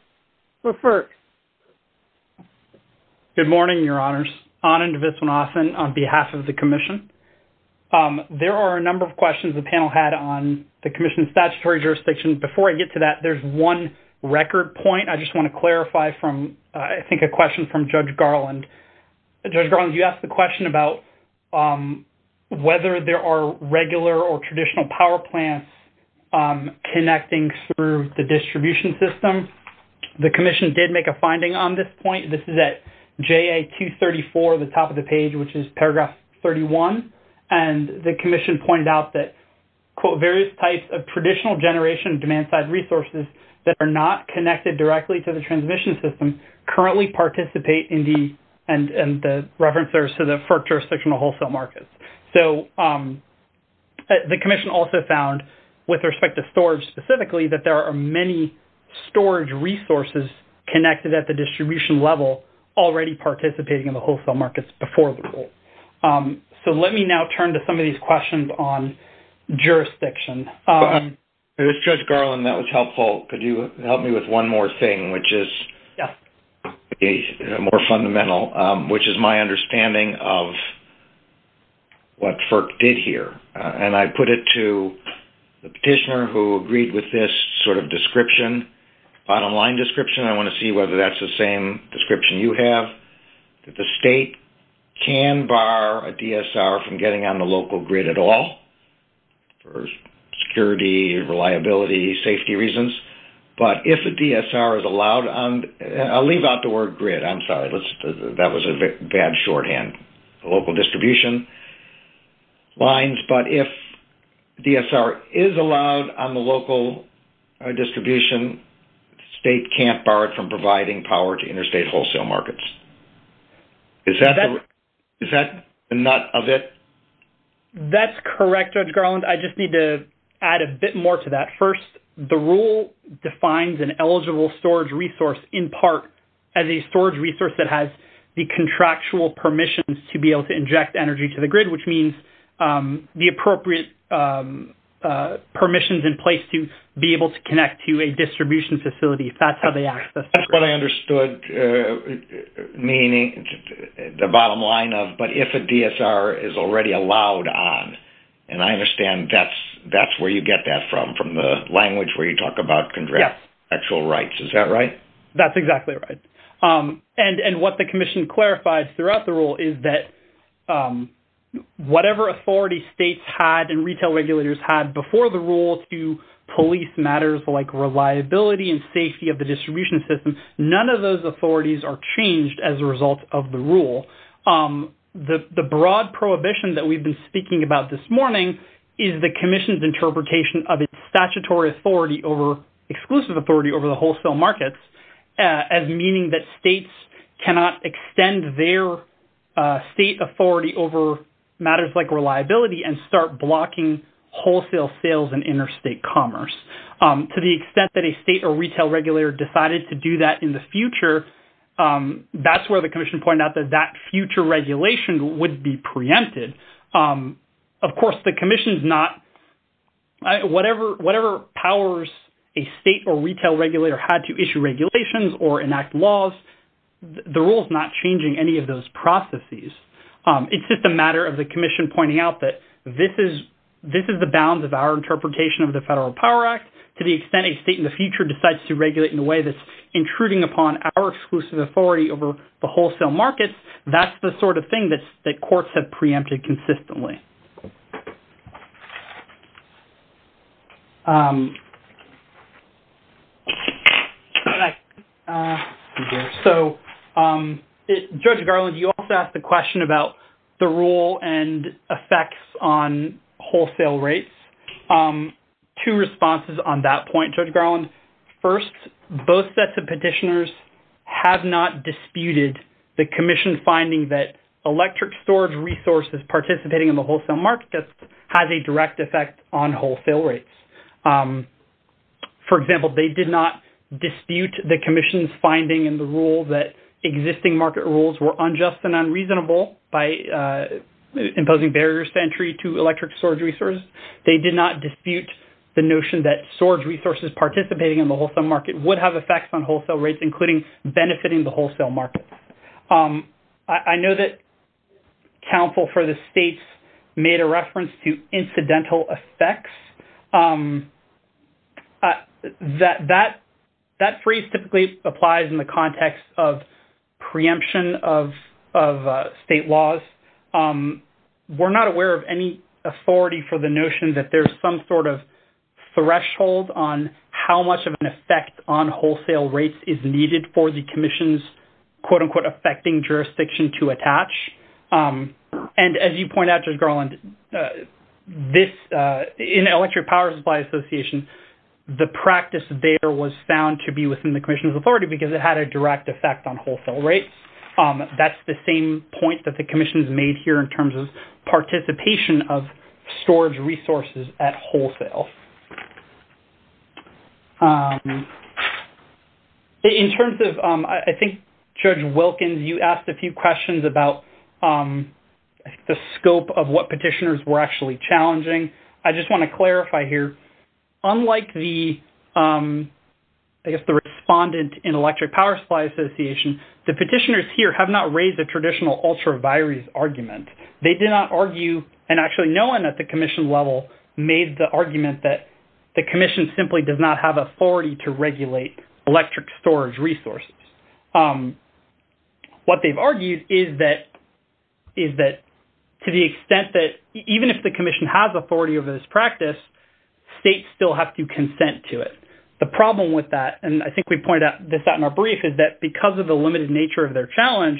for first? Good morning, Your Honors. Anand Vitsanathan on behalf of the Commission. There are a number of questions the panel had on the Commission's statutory jurisdictions. Before I get to that, there's one record point I just want to clarify from, I think a question from Judge Garland. Judge Garland, you asked the question about whether there are regular or traditional power plants connecting through the distribution system. The Commission did make a finding on this point. This is at JA 234, the top of the page, which is paragraph 31, and the Commission pointed out that, quote, various types of traditional generation demand-side resources that are not connected directly to the transmission system currently participate in the and the reference there is to the FERC jurisdictional wholesale markets. So the Commission also found, with respect to storage specifically, that there are many storage resources connected at the distribution level already participating in the wholesale markets before the rule. So let me now turn to some of these questions on jurisdiction. It was Judge Garland. That was helpful. Well, could you help me with one more thing, which is more fundamental, which is my understanding of what FERC did here. And I put it to the petitioner who agreed with this sort of description, bottom-line description. I want to see whether that's the same description you have. The state can bar a DSR from getting on the local grid at all for security, reliability, safety reasons. But if the DSR is allowed on the – I'll leave out the word grid. I'm sorry. That was a bad shorthand. Local distribution lines. But if DSR is allowed on the local distribution, state can't bar it from providing power to interstate wholesale markets. Is that the nut of it? That's correct, Judge Garland. I just need to add a bit more to that. First, the rule defines an eligible storage resource in part as a storage resource that has the contractual permissions to be able to inject energy to the grid, which means the appropriate permissions in place to be able to connect to a distribution facility if that's how they access it. That's what I understood the bottom line of. But if a DSR is already allowed on, and I understand that's where you get that from, from the language where you talk about contractual rights. Is that right? That's exactly right. And what the commission clarified throughout the rule is that whatever authority states had and retail regulators had before the rule to police matters like reliability and safety of the distribution system, none of those authorities are changed as a result of the rule. The broad prohibition that we've been speaking about this morning is the commission's interpretation of statutory authority over exclusive authority over the wholesale markets as meaning that states cannot extend their state authority over matters like reliability and start blocking wholesale sales and interstate commerce. To the extent that a state or retail regulator decided to do that in the future regulation would be preempted. Of course the commission's not, whatever powers a state or retail regulator had to issue regulations or enact laws, the rule is not changing any of those processes. It's just a matter of the commission pointing out that this is the bounds of our interpretation of the federal power act to the extent a state in the future decides to regulate in a way that's intruding upon our exclusive authority over the wholesale markets, that's the sort of thing that courts have preempted consistently. So Judge Garland, you also asked a question about the rule and effects on wholesale rates. Two responses on that point, Judge Garland. First, both sets of petitioners have not disputed the commission finding that electric storage resources participating in the wholesale markets has a direct effect on wholesale rates. For example, they did not dispute the commission's finding in the rule that existing market rules were unjust and unreasonable by imposing barriers to entry to electric storage resources. They did not dispute the notion that storage resources participating in the wholesale market would have effects on wholesale rates, including benefiting the wholesale market. I know that counsel for the states made a reference to incidental effects. That phrase typically applies in the context of preemption of state laws. We're not aware of any authority for the notion that there's some sort of threshold on how much of an effect on wholesale rates is needed for the commission's quote-unquote affecting jurisdiction to attach. And as you point out, Judge Garland, in the Electric Power Supply Association, the practice there was found to be within the commission's authority because it had a direct effect on wholesale rates. That's the same point that the commission's made here in terms of participation of storage resources at wholesale. In terms of, I think, Judge Wilkins, you asked a few questions about the scope of what petitioners were actually challenging. I just want to clarify here, unlike the, I guess, the respondent in Electric Power Supply Association, the petitioners here have not raised a traditional ultra virus argument. They did not argue, and actually no one at the commission level made the argument that the commission simply does not have authority to regulate electric storage resources. What they've argued is that to the extent that even if the commission has authority over this practice, states still have to consent to it. The problem with that, and I think we pointed out this at more brief is that because of the limited nature of their challenge,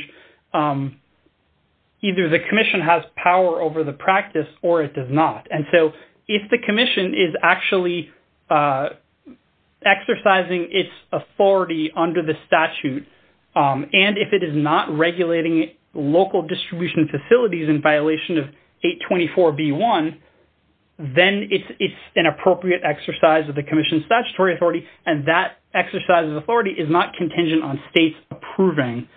either the commission has power over the practice or it does not. And so if the commission is actually exercising its authority under the statute, and if it is not regulating local distribution facilities in violation of 824B1, then it's an appropriate exercise of the commission's statutory authority. And that exercise of authority is not contingent on states approving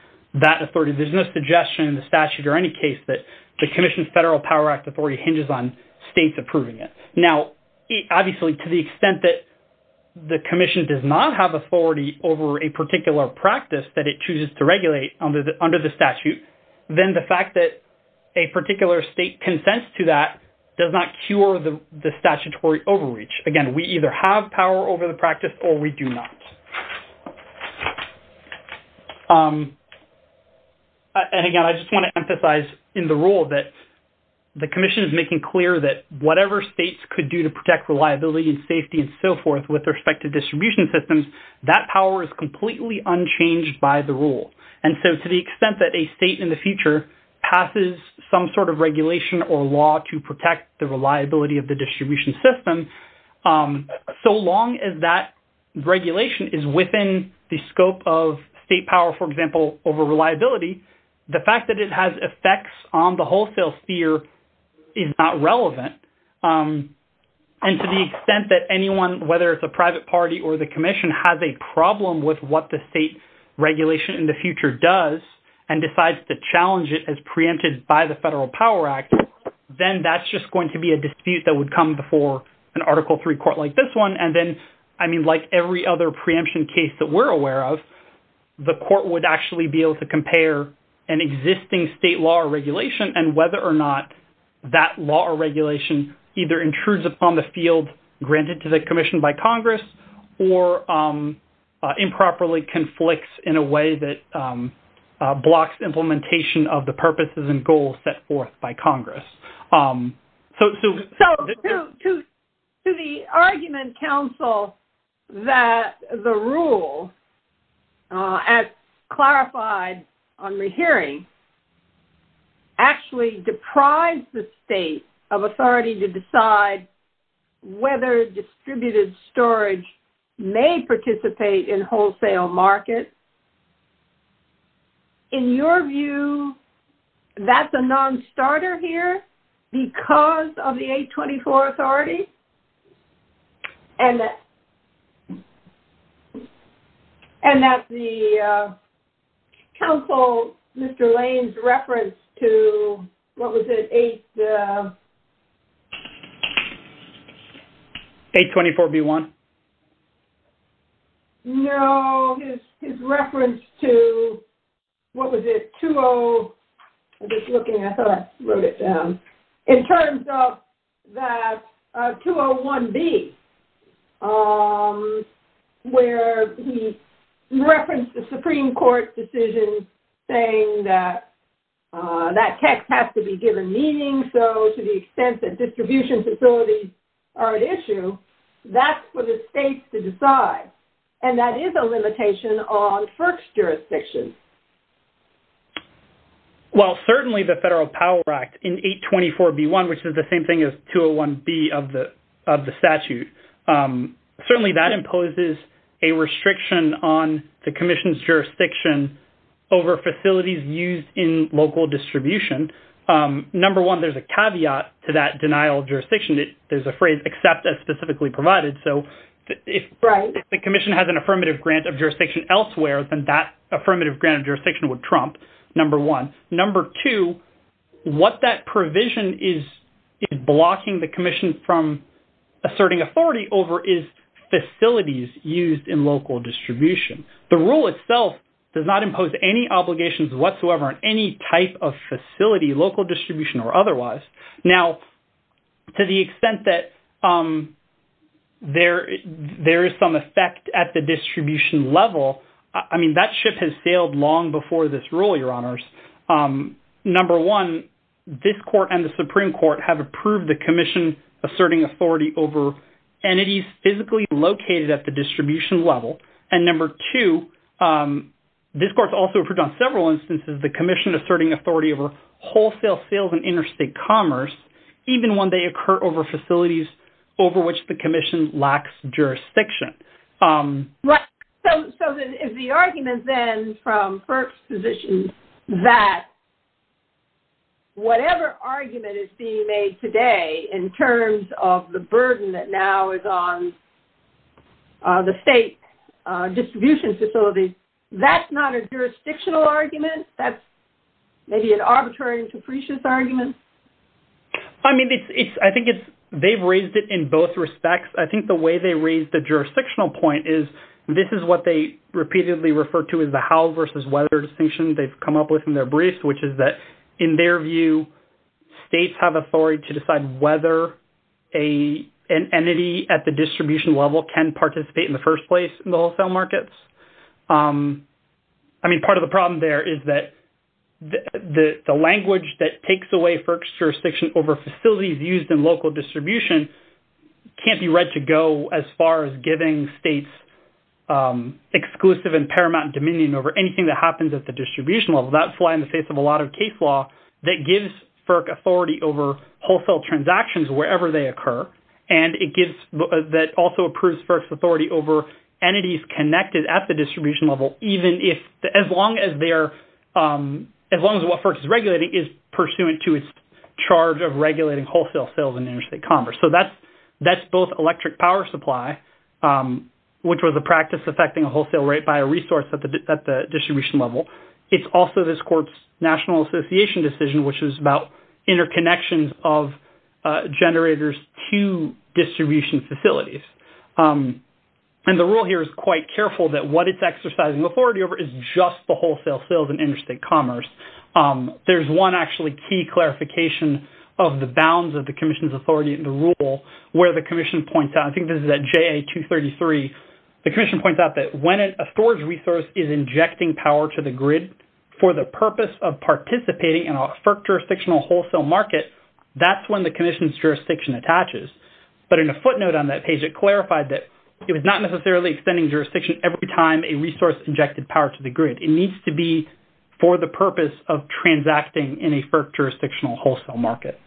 that authority. There's no suggestion in the statute or any case that the commission's federal power act authority hinges on states approving it. Now, obviously to the extent that the commission does not have authority over a particular practice that it chooses to regulate under the statute, then the fact that a particular state consents to that does not cure the statutory overreach. Again, we either have power over the practice or we do not. And again, I just want to emphasize in the rule that the commission is making clear that whatever states could do to protect reliability and safety and so forth with respect to distribution systems, that power is completely unchanged by the rule. And so to the extent that a state in the future passes some sort of regulation or law to protect the reliability of the distribution system, so long as that regulation is within the scope of state power, for example, over reliability, the fact that it has effects on the wholesale sphere is not relevant. And to the extent that anyone, whether it's a private party or the commission has a problem with what the state regulation in the future does and decides to challenge it as preempted by the federal power act, then that's just going to be a dispute that would come before an article three court like this one. And then, I mean, like every other preemption case that we're aware of, the court would actually be able to compare an existing state law or regulation and whether or not that law or regulation either intrudes upon the field, granted to the commission by Congress, or improperly conflicts in a way that blocks implementation of the purposes and goals set forth by Congress. So to the argument council, that the rule as clarified on rehearing actually deprived the state of authority to decide whether distributed storage may participate in wholesale market. In your view, that's a non-starter here because of the 824 authority and that the council, Mr. Lane's reference to what was it? 824 B1. No, his reference to, what was it? I'm just looking, I thought I wrote it down. It turns out that 201 B, where he referenced the Supreme court decision saying that that text has to be given meaning. So to the extent that distribution facilities are an issue, that's what it takes to decide. And that is a limitation on first jurisdiction. Well, certainly the federal power act in 824 B1, which is the same thing as 201 B of the statute. Certainly that imposes a restriction on the commission's jurisdiction over facilities used in local distribution. Number one, there's a caveat to that denial of jurisdiction. There's a phrase except as specifically provided. So if the commission has an affirmative grant of jurisdiction elsewhere, then that affirmative grant of jurisdiction would Trump number one, number two, what that provision is blocking the commission from asserting authority over is facilities used in local distribution. The rule itself does not impose any obligations whatsoever on any type of facility, local distribution or otherwise. Now, to the extent that there, there is some effect at the distribution level. I mean, that ship has sailed long before this rule, your honors. Number one, this court and the Supreme court have approved the commission asserting authority over entities physically located at the distribution level. And number two, this court's also approved on several instances, the commission asserting authority over wholesale sales and interstate commerce, even when they occur over facilities, over which the commission lacks jurisdiction. Right. So, so the, if the argument then from first position that whatever argument is being made today in terms of the burden that now is on the state distribution facility, that's not a jurisdictional argument. That's maybe an arbitrary and capricious argument. I mean, it's, it's, I think it's, they've raised it in both respects. I think the way they raised the jurisdictional point is this is what they repeatedly referred to as the house versus weather distinction. They've come up with in their briefs, which is that in their view, states have authority to decide whether a, an entity at the distribution level can participate in the first place in the wholesale markets. I mean, part of the problem there is that the language that takes away first jurisdiction over facilities used in local distribution can't be read to go as far as giving states exclusive and paramount dominion over anything that happens at the distribution level. That's why in the face of a lot of case law that gives FERC authority over wholesale transactions, wherever they occur. And it gives, that also approves first authority over entities connected at the distribution level. Even if as long as they're as long as what FERC is regulating is pursuant to its charge of regulating wholesale sales in interstate commerce. So that's, that's both electric power supply which was a practice affecting wholesale rate by a resource at the, at the distribution level. It's also this court's national association decision, which is about interconnections of generators to distribution facilities. And the rule here is quite careful that what it's exercising authority over is just the wholesale sales in interstate commerce. There's one actually key clarification of the bounds of the commission's authority in the rule where the commission points out, I think this is at JA 233. The commission points out that when a storage resource is injecting power to the grid for the purpose of participating in a FERC jurisdictional wholesale market, that's when the commission's jurisdiction attaches. But in a footnote on that page, it clarified that it was not necessarily extending jurisdiction every time a resource injected power to the grid. It needs to be for the purpose of transacting in a FERC jurisdictional wholesale market.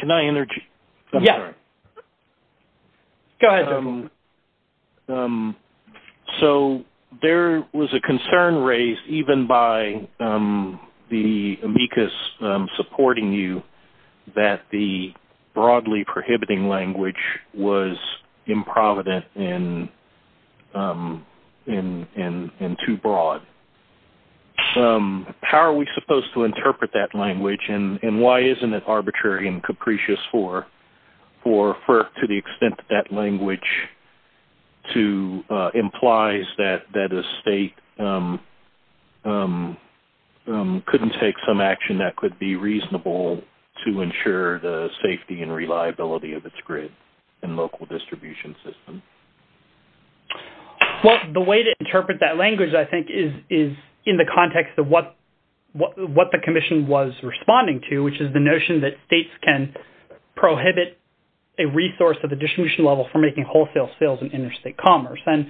Can I interject? Yes. Go ahead. So there was a concern raised, even by the amicus supporting you that the broadly prohibiting language was improvident and too broad. How are we supposed to interpret that language and why isn't it arbitrary and that language implies that a state couldn't take some action that could be reasonable to ensure the safety and reliability of its grid and local distribution system? Well, the way to interpret that language, I think, is in the context of what the commission was responding to, which is the notion that states can prohibit a resource at the distribution level for making wholesale sales and interstate commerce. And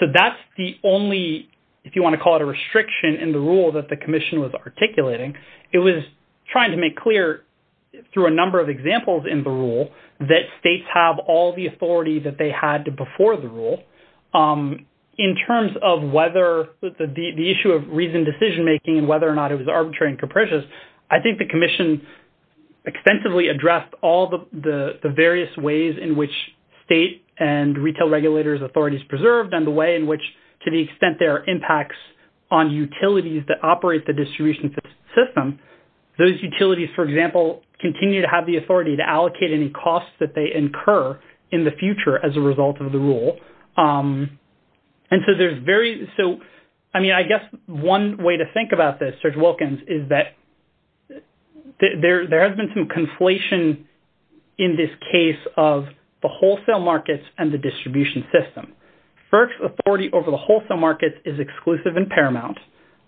so that's the only, if you want to call it a restriction in the rule that the commission was articulating, it was trying to make clear through a number of examples in the rule that states have all the authority that they had to before the rule. In terms of whether the issue of reasoned decision-making and whether or not it was arbitrary and capricious, I think the commission extensively addressed all the various ways in which state and retail regulators authorities preserved and the way in which to the extent there are impacts on utilities that operate the distribution system, those utilities, for example, continue to have the authority to allocate any costs that they incur in the future as a result of the rule. And so there's very, so, I mean, I guess one way to think about this, Serge Wilkins, is that there has been some conflation in this case of the wholesale markets and the distribution system. First authority over the wholesale markets is exclusive and paramount.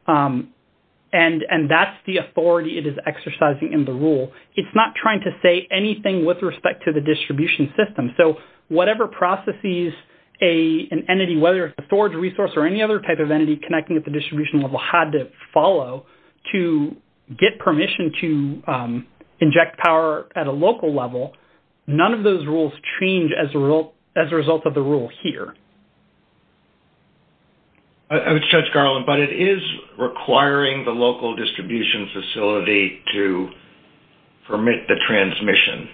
And that's the authority it is exercising in the rule. It's not trying to say anything with respect to the distribution system. So whatever processes an entity, whether it's a storage resource or any other type of entity connecting with the distribution level had to follow to get permission to inject power at a local level, none of those rules change as a result of the rule here. I would stretch Garland, but it is requiring the local distribution facility to permit the transmission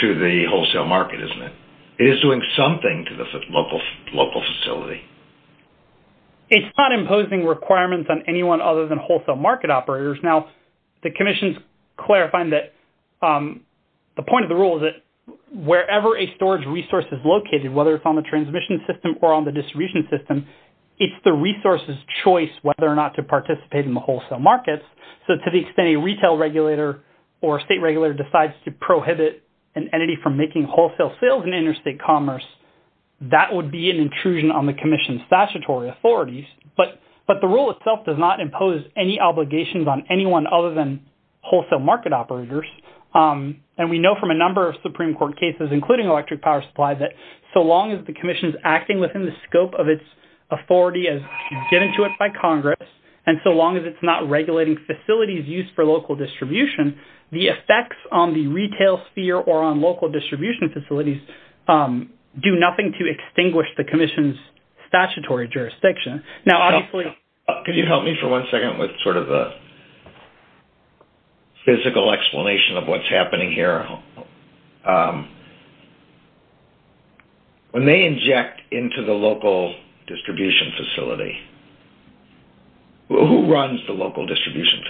to the wholesale market, isn't it? It is doing something to the local facility. It's not imposing requirements on anyone other than wholesale market operators. Now the commission's clarifying that the point of the rule is that wherever a storage resource is located, whether it's on the transmission system or on the distribution system, it's the resource's choice whether or not to participate in the wholesale markets. So to the extent a retail regulator or state regulator decides to prohibit an entity from making wholesale sales in interstate commerce, that would be an intrusion on the commission's statutory authorities. But the rule itself does not impose any obligations on anyone other than wholesale market operators. And we know from a number of Supreme Court cases, including electric power supply, that so long as the commission's acting within the scope of its authority as given to it by Congress, and so long as it's not regulating facilities used for local distribution, the effects on the retail sphere or on local distribution facilities do nothing to extinguish the commission's statutory jurisdiction. Can you help me for one second with sort of a physical explanation of what's happening here? When they inject into the local distribution facility, who runs the local distribution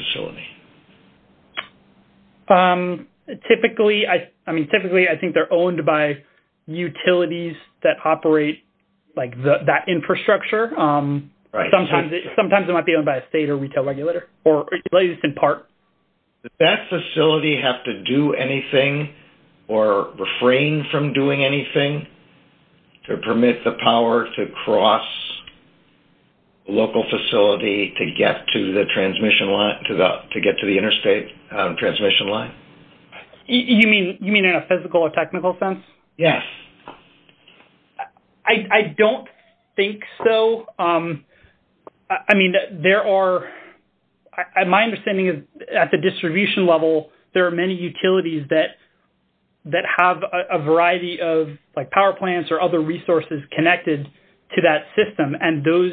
facility? Typically, I think they're owned by utilities that operate that infrastructure. Sometimes they might be owned by a state or retail regulator, or at least in part. Does that facility have to do anything or refrain from doing anything to permit the power to cross local facility to get to the transmission line, to get to the interstate transmission line? You mean in a physical or technical sense? Yes. I don't think so. I mean, there are, my understanding is at the distribution level, there are many utilities that have a variety of power plants or other resources connected to that system, and those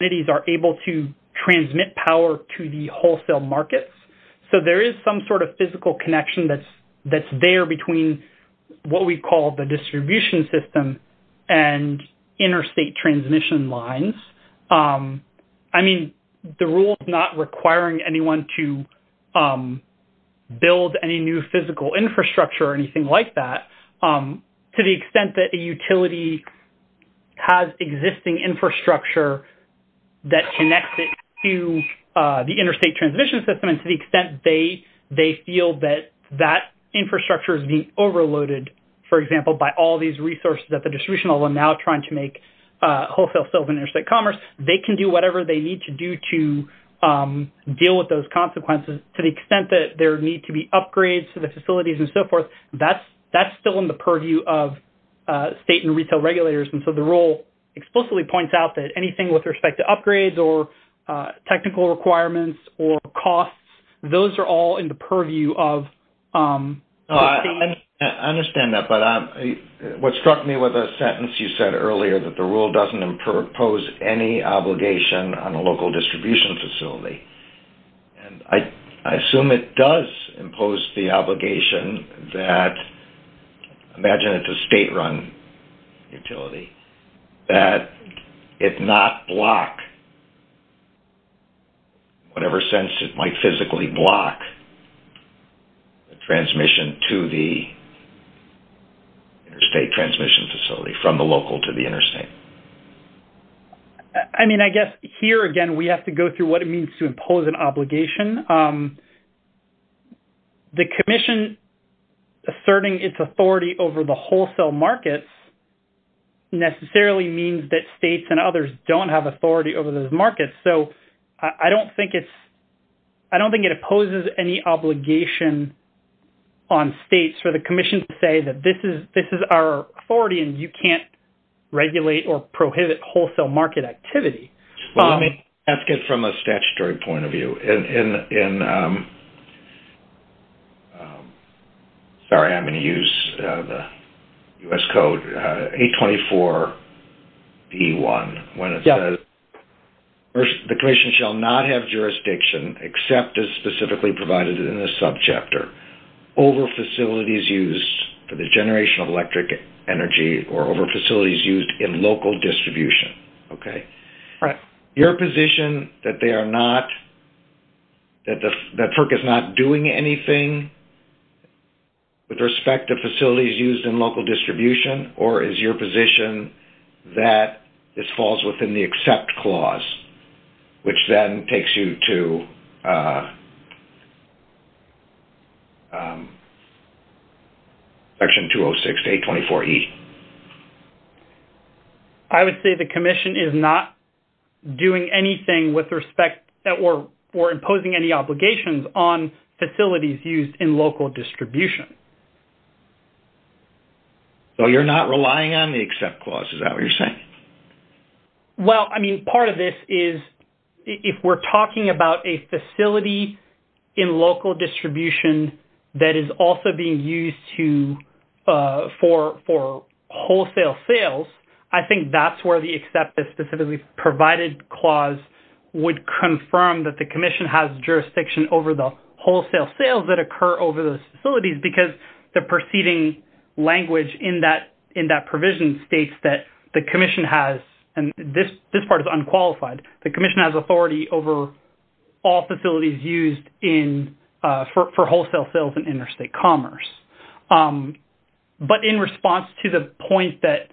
entities are able to transmit power to the wholesale markets. So there is some sort of physical connection that's there between what we call the distribution system and interstate transmission lines. I mean, the rule is not requiring anyone to build any new physical infrastructure or anything like that to the extent that a utility has existing infrastructure that connects it to the interstate transmission system, and to the extent they feel that that infrastructure is being overloaded. For example, by all these resources at the distribution level, and now trying to make wholesale sales in interstate commerce, they can do whatever they need to do to deal with those consequences. To the extent that there need to be upgrades to the facilities and so forth, that's still in the purview of state and retail regulators. And so the rule explicitly points out that anything with respect to upgrades or technical requirements or costs, those are all in the purview of... I understand that, but what struck me with a sentence you said earlier, that the rule doesn't impose any obligation on a local distribution facility. And I assume it does impose the obligation that, imagine it's a state-run utility, that it not block, in whatever sense, it might physically block the transmission to the interstate transmission facility from the local to the interstate. I mean, I guess here, again, we have to go through what it means to impose an obligation. The commission asserting its authority over the wholesale markets necessarily means that states and others don't have authority over those markets. So I don't think it opposes any obligation on states for the commission to say that this is our authority and you can't regulate or prohibit wholesale market activity. From a statutory point of view, sorry, I'm going to use the U.S. Code, A24E1, when it says, the commission shall not have jurisdiction, except as specifically provided in this subchapter, over facilities used for the generation of electric energy or over facilities used in local distribution. Your position that they are not, that FERC is not doing anything with respect to facilities used in local distribution, or is your position that this falls within the accept clause, which then takes you to Section 206, A24E? I would say the commission is not doing anything with respect, or imposing any obligations, on facilities used in local distribution. So you're not relying on the accept clause, is that what you're saying? Well, I mean, part of this is, if we're talking about a facility in local distribution that is also being used to, for wholesale sales, I think that's where the accept, that specifically provided clause, would confirm that the commission has jurisdiction, over the wholesale sales that occur over those facilities, because the preceding language in that provision, states that the commission has, and this part is unqualified, the commission has authority over all facilities used in, for wholesale sales and interstate commerce. But in response to the point that,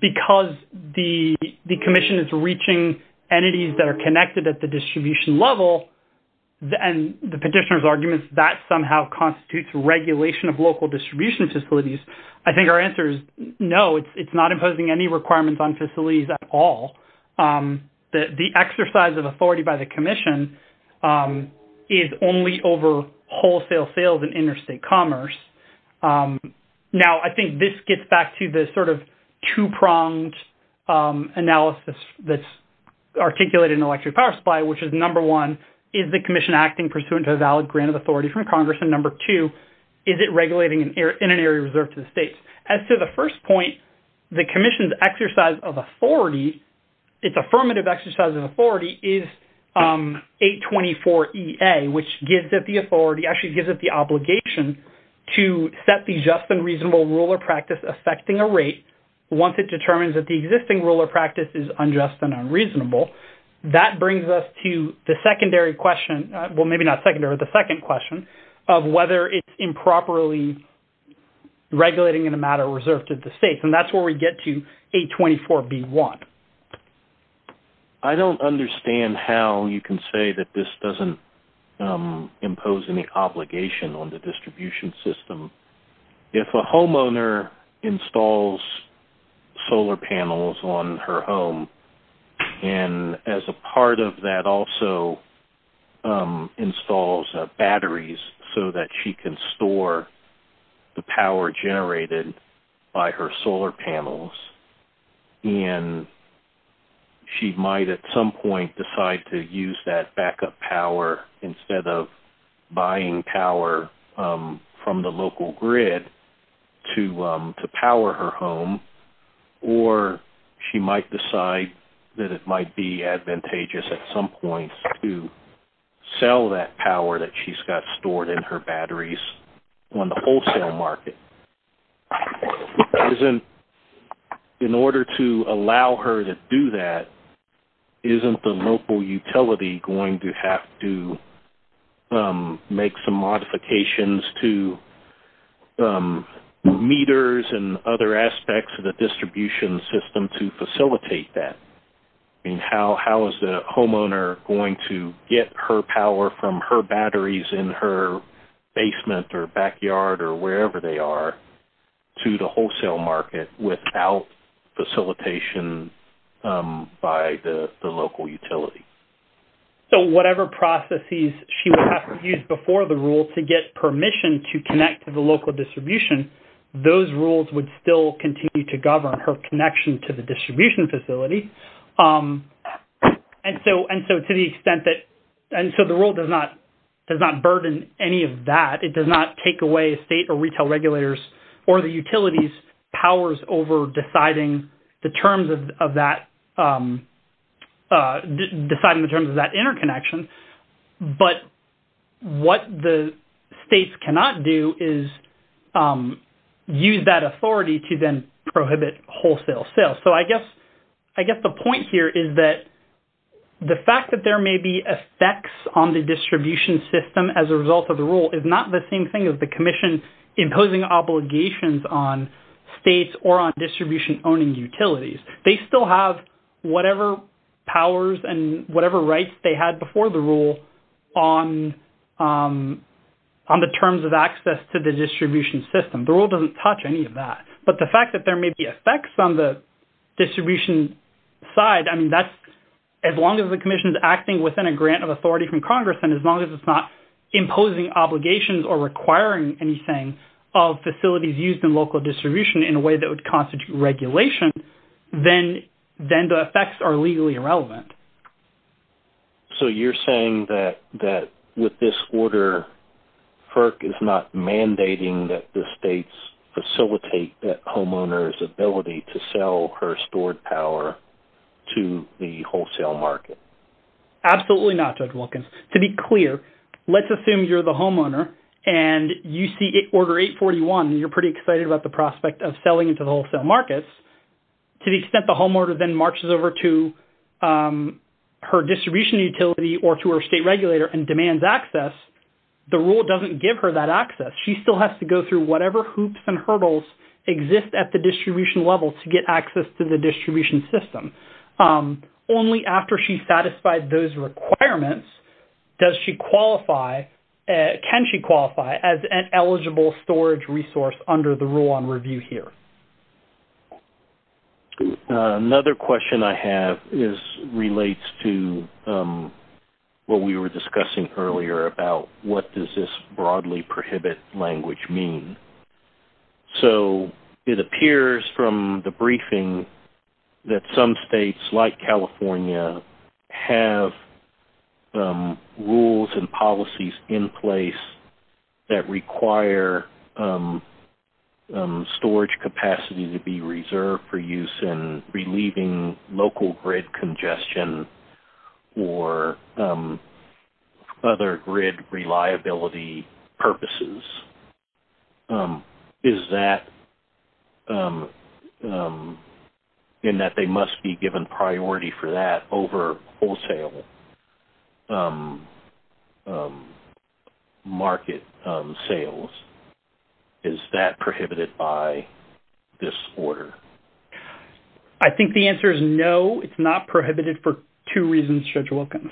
because the commission is reaching entities, that are connected at the distribution level, and the petitioner's arguments, that somehow constitutes regulation, of local distribution facilities. I think our answer is no, it's not imposing any requirements on facilities at all. The exercise of authority by the commission, is only over wholesale sales and interstate commerce. Now, I think this gets back to the, two pronged analysis, that's articulated in the Electric Power Supply, which is number one, is the commission acting, pursuant to a valid grant of authority from Congress? And number two, is it regulating in an area reserved to the state? As to the first point, the commission's exercise of authority, it's affirmative exercise of authority, is 824 EA, which gives it the authority, actually gives it the obligation, to set the just and reasonable rule of practice, affecting a rate, once it determines that the existing rule of practice, is unjust and unreasonable. That brings us to the secondary question, well maybe not secondary, the second question, of whether it's improperly, regulating in a matter reserved to the state, and that's where we get to 824 B1. I don't understand how you can say, that this doesn't impose any obligation, on the distribution system. If a homeowner installs, solar panels on her home, and as a part of that also, installs batteries, so that she can store, the power generated, by her solar panels, and, she might at some point, decide to use that backup power, instead of buying power, from the local grid, to power her home, or she might decide, that it might be advantageous at some point, to sell that power, that she's got stored in her batteries, on the wholesale market. In order to allow her to do that, isn't the local utility going to have to, make some modifications to, meters and other aspects, of the distribution system to facilitate that, and how is the homeowner, going to get her power from her batteries, in her basement or backyard, or wherever they are, to the wholesale market, without facilitation, by the local utility. So whatever processes, she would have to use before the rule, to get permission to connect, to the local distribution, those rules would still continue to govern, her connection to the distribution facility, and so to the extent that, and so the rule does not, does not burden any of that, it does not take away, state or retail regulators, or the utilities powers, over deciding the terms of that, deciding the terms of that interconnection, but what the states cannot do, is use that authority, to then prohibit wholesale sales, so I guess the point here is that, the fact that there may be effects, on the distribution system, as a result of the rule, is not the same thing as the commission, imposing obligations on states, or on distribution owning utilities, they still have whatever powers, and whatever rights they had before the rule, on the terms of access, to the distribution system, the rule doesn't touch any of that, but the fact that there may be effects, on the distribution side, I mean that's as long as the commission is acting, within a grant of authority from Congress, and as long as it's not imposing obligations, or requiring anything, of facilities used in local distribution, in a way that would constitute regulation, then the effects are legally irrelevant. So you're saying that with this order, FERC is not mandating that the states, facilitate that homeowner's ability, to sell her stored power, to the wholesale market? Absolutely not Judge Wilkins, to be clear, let's assume you're the homeowner, and you see order 841, and you're pretty excited about the prospect, of selling to the wholesale markets, to the extent the homeowner, then marches over to her distribution utility, or to her state regulator, and demands access, the rule doesn't give her that access, she still has to go through, whatever hoops and hurdles, exist at the distribution level, to get access to the distribution system, only after she satisfied those requirements, does she qualify, can she qualify, as an eligible storage resource, under the rule on review here, so that's what we're looking at. Another question I have, is relates to, what we were discussing earlier, about what does this, broadly prohibit language mean, so it appears from the briefing, that some states like California, have rules and policies in place, that require storage capacity, to be reserved for use, in relieving local grid congestion, or other grid reliability purposes, is that, in that they must be given priority for that, over wholesale market sales, is that prohibited by this order? I think the answer is no, it's not prohibited for two reasons, Judge Wilkins.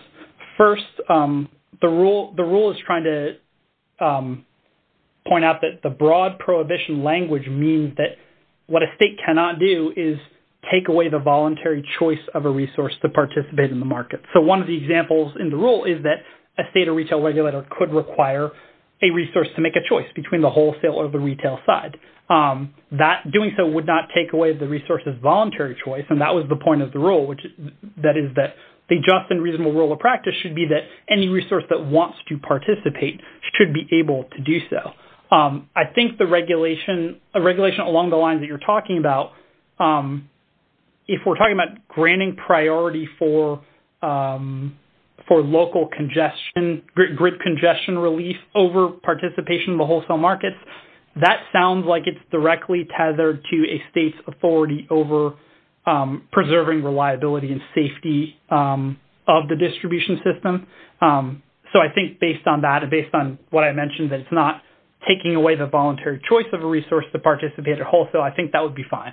First, the rule is trying to point out, that the broad prohibition language, means that what a state cannot do, is take away the voluntary choice, of a resource to participate in the market, so one of the examples in the rule, is that a state or retail regulator, could require a resource to make a choice, between the wholesale or the retail side, that doing so would not take away, the resource's voluntary choice, and that was the point of the rule, that is that, the just and reasonable rule of practice, should be that any resource, that wants to participate, should be able to do so, I think the regulation, along the lines that you're talking about, if we're talking about granting priority, for local congestion, grid congestion relief, over participation in the wholesale markets, that sounds like it's directly tethered, to a state's authority, over preserving reliability, and safety of the distribution system, so I think based on that, and based on what I mentioned, that it's not taking away, the voluntary choice of a resource, to participate or wholesale, so I think that would be fine.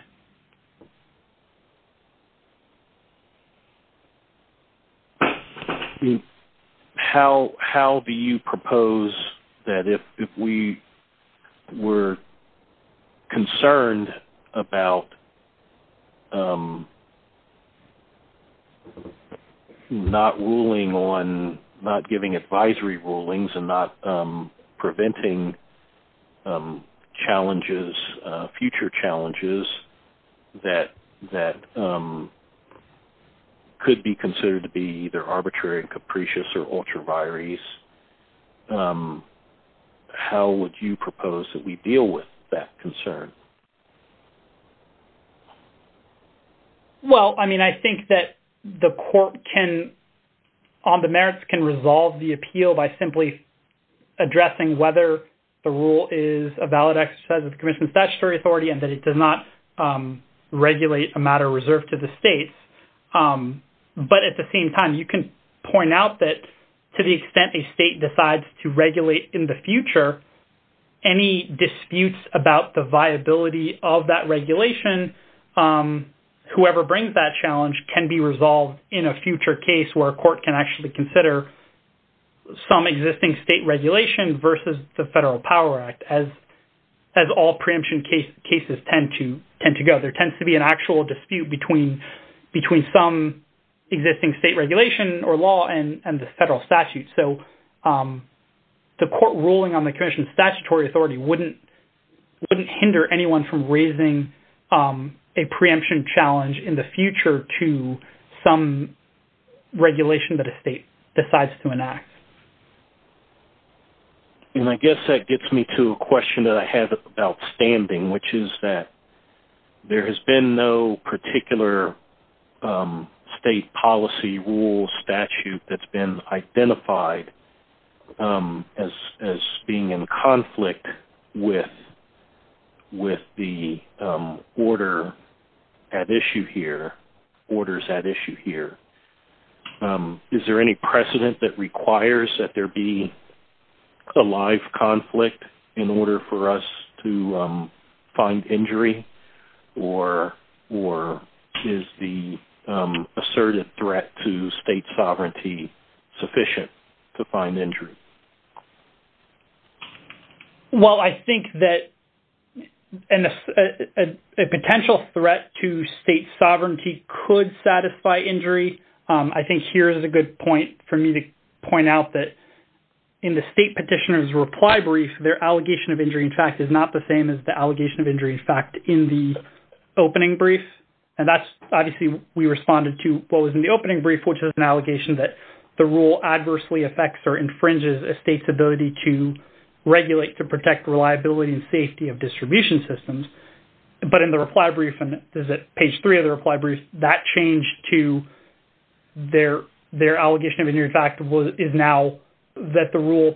How do you propose, that if we were concerned, about not giving advisory rulings, and not preventing challenges, future challenges, that could be considered, to be either arbitrary and capricious, or ultra vires, how would you propose, that we deal with that concern? Well I mean I think that, the court can on the merits, can resolve the appeal, by simply addressing whether, the rule is a valid exercise, of the commission statutory authority, and that it does not regulate, a matter reserved to the state, but at the same time, you can point out that, to the extent a state decides, to regulate in the future, any disputes about the viability, of that regulation, whoever brings that challenge, can be resolved in a future case, where a court can actually consider, some existing state regulation, versus the Federal Power Act, as all preemption cases tend to go, there tends to be an actual dispute, between some existing state regulation, or law and the federal statute, so the court ruling, on the commission statutory authority, wouldn't hinder anyone, from raising a preemption challenge, in the future to some regulation, that a state decides to enact, and I guess that gets me to a question, that I have about standing, which is that, there has been no particular, state policy rule statute, that's been identified, as being in conflict, with the order, at issue here, orders at issue here, is there any precedent that requires, that there be a life conflict, in order for us to find injury, or is the assertive threat, to state sovereignty sufficient, to find injury? Well I think that, a potential threat to state sovereignty, could satisfy injury, I think here is a good point, for me to point out that, in the state petitioner's reply brief, their allegation of injury in fact, is not the same as the allegation of injury, in fact in the opening brief, and that's obviously we responded to, what was in the opening brief, which is an allegation that, the rule adversely affects, or infringes a state's ability, to regulate to protect reliability, and safety of distribution systems, but in the reply brief, and this is at page three of the reply brief, that change to, their allegation of injury in fact, is now that the rule,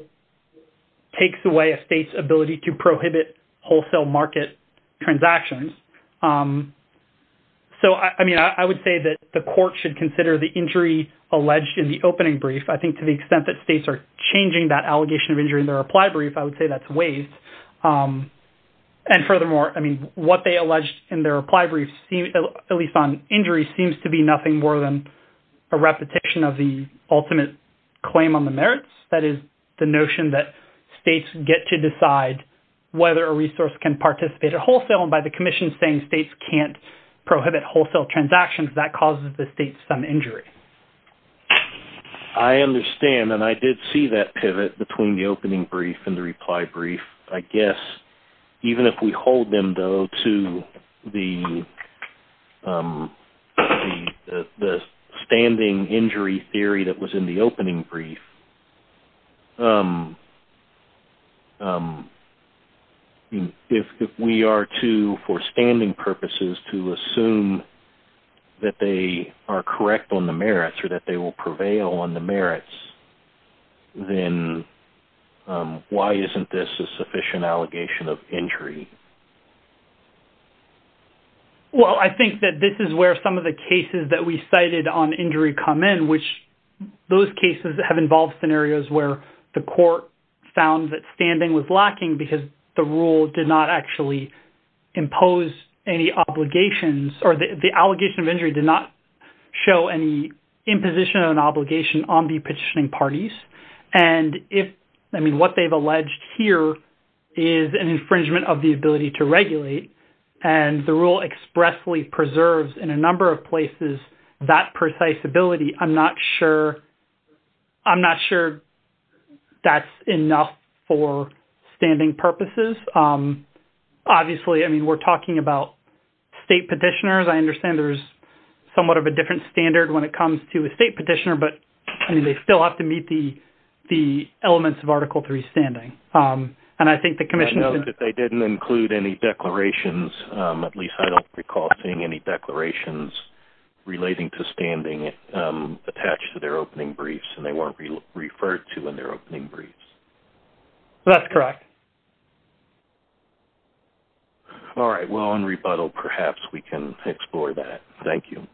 takes away a state's ability, to prohibit wholesale market transactions, so I mean I would say that, the court should consider the injury, alleged in the opening brief, I think to the extent that states, are changing that allegation of injury, in their reply brief, I would say that's waste, and furthermore I mean, what they alleged in their reply brief, at least on injury, seems to be nothing more than, a repetition of the ultimate, claim on the merits, that is the notion that, states get to decide, whether a resource can participate at wholesale, and by the commission saying, states can't prohibit wholesale transactions, that causes the state some injury, I understand, and I did see that pivot, between the opening brief, and the reply brief, I guess, even if we hold them though, to the, standing injury theory, that was in the opening brief, if we are to for standing purposes, to assume, that they are correct on the merits, or that they will prevail on the merits, then, why isn't this a sufficient allegation, of injury? Well, I think that this is where some of the cases, that we cited on injury come in, which those cases that have involved scenarios, where the court, found that standing was lacking, because the rule did not actually, impose any obligations, or the allegation of injury did not, show any imposition of an obligation, on the petitioning parties, and if I mean, what they've alleged here, is an infringement of the ability to regulate, and the rule expressly preserves, in a number of places, that precise ability, I'm not sure, I'm not sure, that's enough, for standing purposes, obviously, I mean, we're talking about, state petitioners, I understand there's, somewhat of a different standard, when it comes to a state petitioner, but I mean, they still have to meet the, the elements of article three standing, and I think the commission, that they didn't include any declarations, at least I don't recall, seeing any declarations, relating to standing, attached to their opening briefs, and they won't be referred to, in their opening briefs, that's correct, all right, well on rebuttal, perhaps we can explore that, thank you,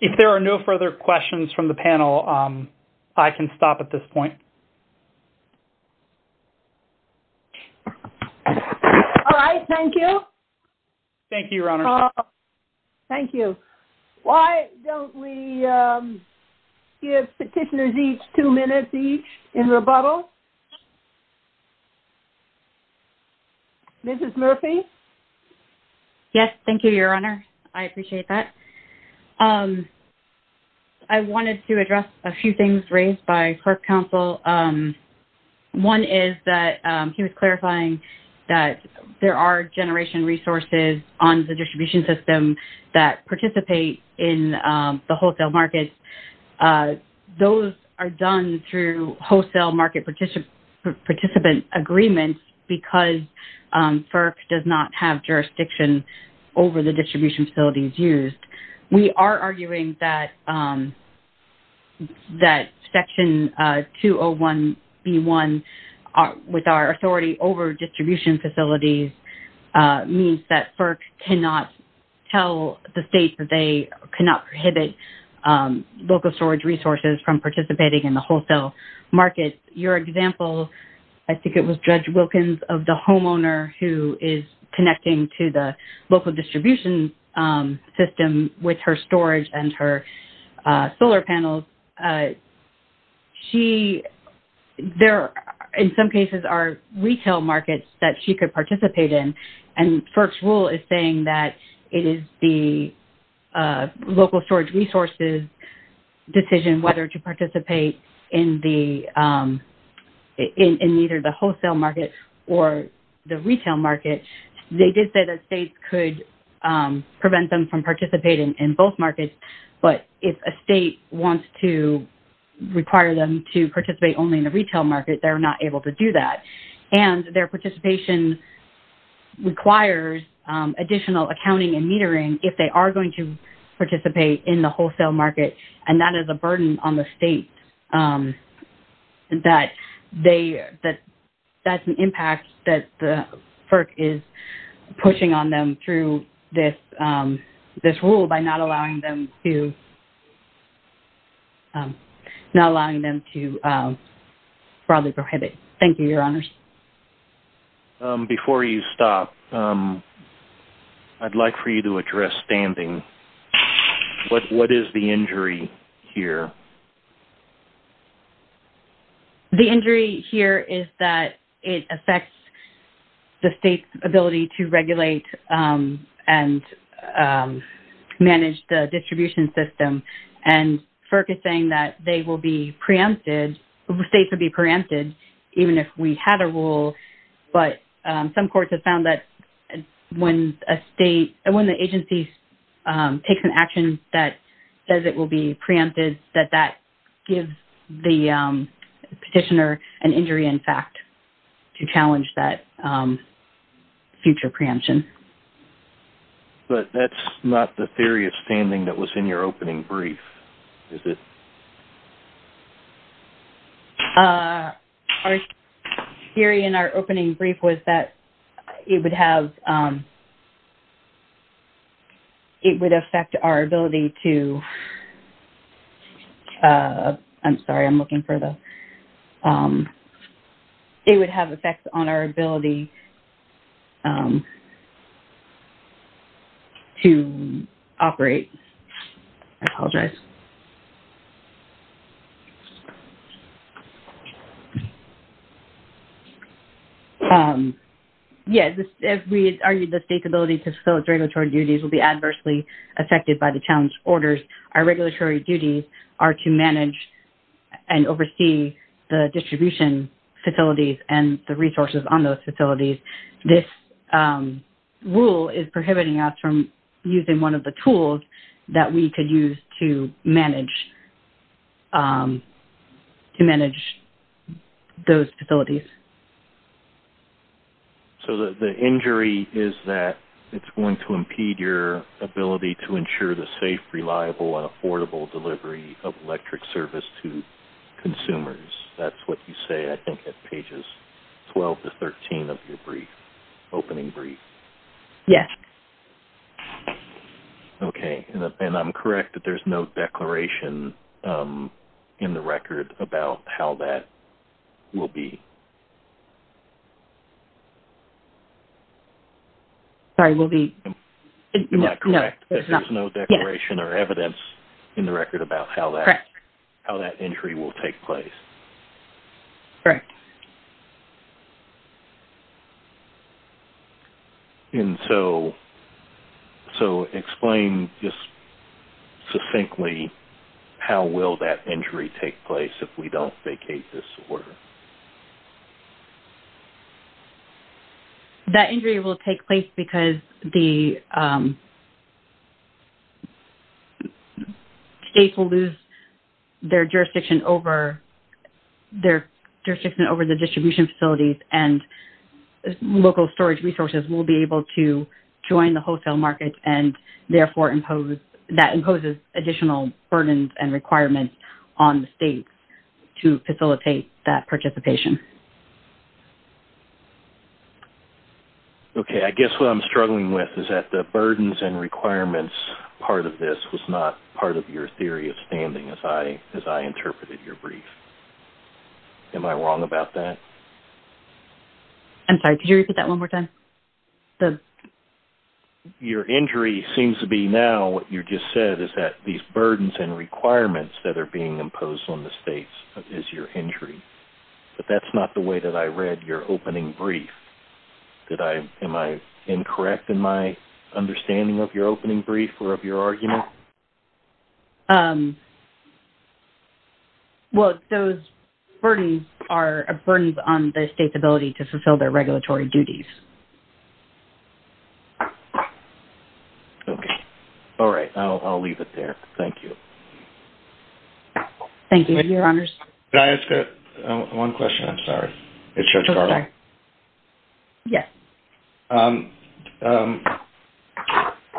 if there are no further questions, from the panel, I can stop at this point, all right, thank you, thank you, thank you, why don't we, give petitioners, each two minutes, each in rebuttal, this is Murphy, yes, thank you, your honor, I appreciate that, I wanted to address, a few things, raised by clerk counsel, one is that, he was clarifying, that there are generation resources, on the distribution system, that participate, in the wholesale market, those are done, through wholesale market, participant agreements, because FERC, does not have jurisdiction, over the distribution facilities used, we are arguing that, that section 201, be one, with our authority, over distribution facilities, means that FERC, cannot tell the state, that they cannot prohibit, local storage resources, from participating in the wholesale market, your example, I think it was judge Wilkins, of the homeowner, who is connecting, to the local distribution, system with her storage, and her solar panels, she, there in some cases, are retail markets, that she could participate in, and FERC's rule is saying that, it is the, local storage resources, decision whether to participate, in the, in either the wholesale market, or the retail market, they did say that they could, prevent them from participating, in both markets, but if a state wants to, require them to participate, only in the retail market, they're not able to do that, and their participation, requires, additional accounting and metering, if they are going to participate, in the wholesale market, and that is a burden on the state, that they, that's an impact, that the FERC is, pushing on them through this, this rule by not allowing them to, not allowing them to, further prohibit. Thank you, your honors. Before you stop, I'd like for you to address standing, what is the injury here? The injury here is that, it affects, the state's ability to regulate, and, manage the distribution system, and FERC is saying, that they will be preempted, states will be preempted, even if we had a rule, but some courts have found that, when a state, and when the agency, takes an action that, says it will be preempted, that that gives the, petitioner, an injury in fact, to challenge that, future preemption. But that's not the theory of standing, that was in your opening brief, was it? Our theory in our opening brief, was that, it would have, it would affect our ability to, I'm sorry, I'm looking for the, it would have effects on our ability, to operate, I apologize. Yes, as we argued the state's ability to, facilitate regulatory duties will be, adversely affected by the challenge orders, our regulatory duties, are to manage, and oversee, the distribution facilities, and the resources on those facilities, this, rule is prohibiting us from, using one of the tools, that we could use to manage, to manage, those facilities. So the injury is that, it's going to impede your, ability to ensure the safe, reliable and affordable delivery, of electric service to, consumers, that's what you say I think at pages, 12 to 13 of your brief, opening brief. Yes. Okay, and I'm correct that there's no declaration, in the record, about how that, will be. Sorry will be. No, there's no declaration or evidence, in the record about how that, how that injury will take place. Correct. Okay. And so, so explain, just succinctly, how will that injury take place, if we don't vacate this order? That injury will take place because, the, state will lose, their jurisdiction over, their jurisdiction over the distribution facilities, and, local storage resources will be able to, join the wholesale market, and therefore impose, that imposes additional burdens and requirements, on the state, to facilitate that participation. Okay I guess what I'm struggling with, is that the burdens and requirements, part of this was not part of your theory of standing, as I interpreted your brief. Am I wrong about that? I'm sorry could you repeat that one more time? Your injury seems to be now, what you just said, is that these burdens and requirements, that are being imposed on the states, is your injury. But that's not the way that I read your opening brief. Did I, am I incorrect in my, understanding of your opening brief, or of your argument? No. Well those burdens, are a burden on the state's ability, to fulfill their regulatory duties. Okay. All right I'll leave it there. Thank you. Thank you your honors. Can I ask one question? I'm sorry. Yes.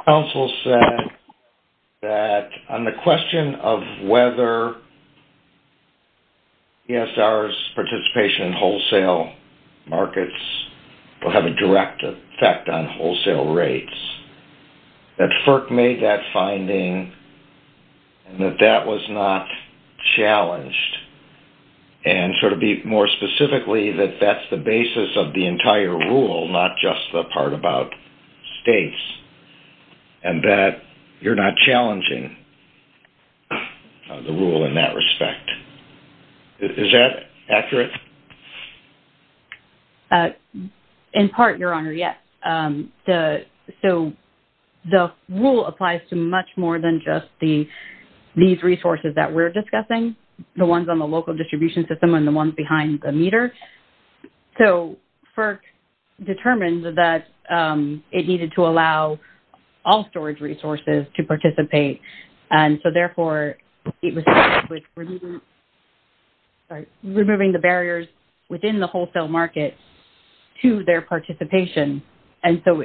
Council said, that on the question, of whether, ESR's participation, in wholesale markets, will have a direct effect, on wholesale rates. That FERC made that finding, and that that was not, challenged. And so to be more specifically, that that's the basis of the entire rule, not just the part about, states. And that, you're not challenging, the rule in that respect. Is that accurate? In part your honor yes. So, the rule applies to much more than just the, these resources that we're discussing. The ones on the local distribution system, and the ones behind the meter. So, FERC, determined that, it needed to allow, all storage resources to participate. And so therefore, removing the barriers, within the wholesale market, to their participation. And so,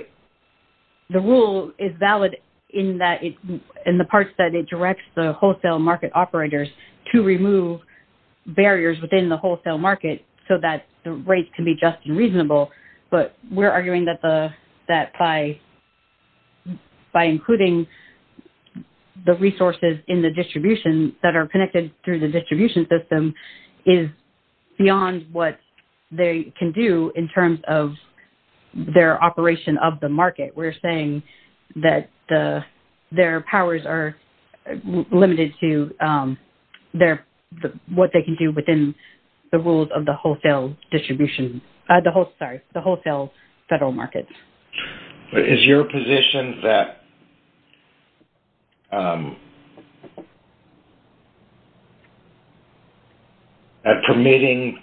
the rule is valid, in that, in the parts that it directs the wholesale market operators, to remove, barriers within the wholesale market, so that the rates can be just and reasonable. But we're arguing that the, that by, by including, the resources in the distribution, that are connected through the distribution system, is, beyond what, they can do in terms of, their operation of the market. We're saying, that the, their powers are, limited to, their, what they can do within, the rules of the wholesale distribution, the wholesale, the wholesale federal market. Is your position, that, that permitting,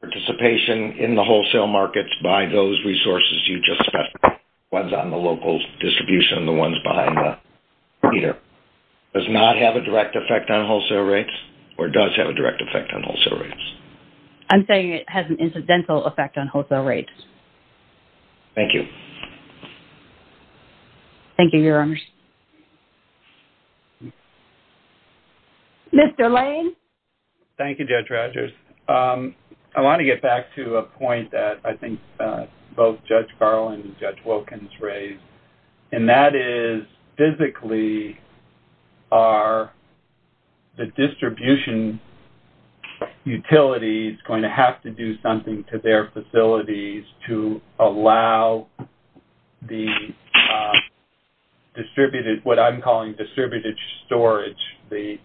participation, in the wholesale markets, by those resources, you just have, ones on the local distribution, and the ones behind the, does not have a direct effect on wholesale rates, or does have a direct effect on wholesale rates? I'm saying, it has an incidental effect on wholesale rates. Thank you. Thank you. Mr. Lane. Thank you, Judge Rogers. I want to get back to a point that, I think, both Judge Garland and Judge Wilkins raised. And that is, physically, are, the distribution, utilities, going to have to do something to their facilities, to allow, the, distributed, what I'm calling distributed storage, the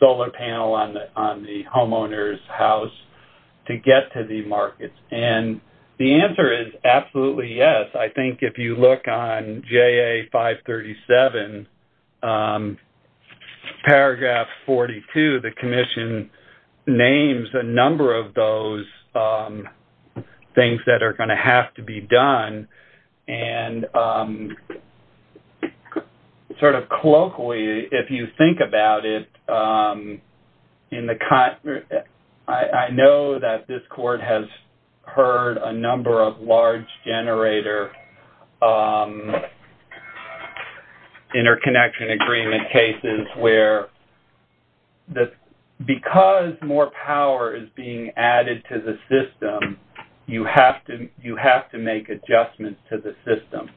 solar panel on the, on the homeowner's house, to get to the markets. And, the answer is absolutely yes. I think if you look on, JA 537, paragraph 42, the commission, names a number of those, things that are going to have to be done. And, sort of colloquially, if you think about it, in the, I know that this court has, heard a number of large generator, interconnection agreement cases where, the, because more power is being added to the system, you have to make adjustments to the system,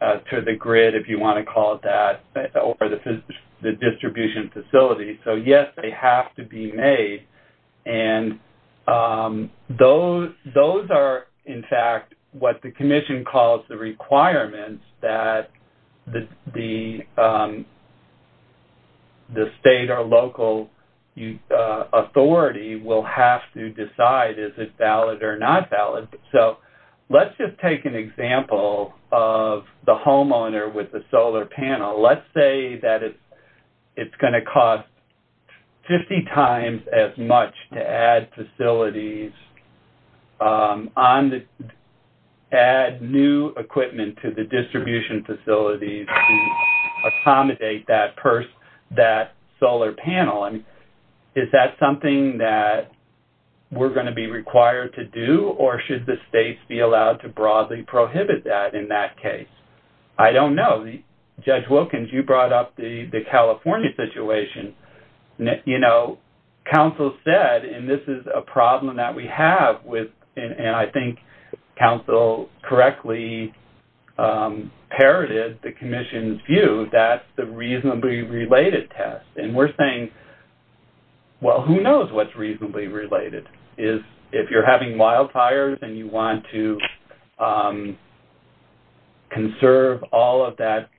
to the grid, if you want to call it that, or the distribution facility. So yes, they have to be made. And, those are, in fact, what the commission calls the requirements that, the, the state or local, authority will have to decide is it valid or not valid. So, let's just take an example, of the homeowner with the solar panel. Let's say that it's, it's going to cost, 50 times as much to add facilities, on the, add new equipment to the distribution facilities, accommodate that person, that solar panel. Is that something that, we're going to be required to do, or should the states be allowed to broadly prohibit that in that case? I don't know. Judge Wilkins, you brought up the, the California situation, you know, council said, and this is a problem that we have with, and I think council correctly, imperative, the commission's view, that's the reasonably related test. And we're saying, well, who knows what's reasonably related is, if you're having wildfires and you want to, conserve all of that,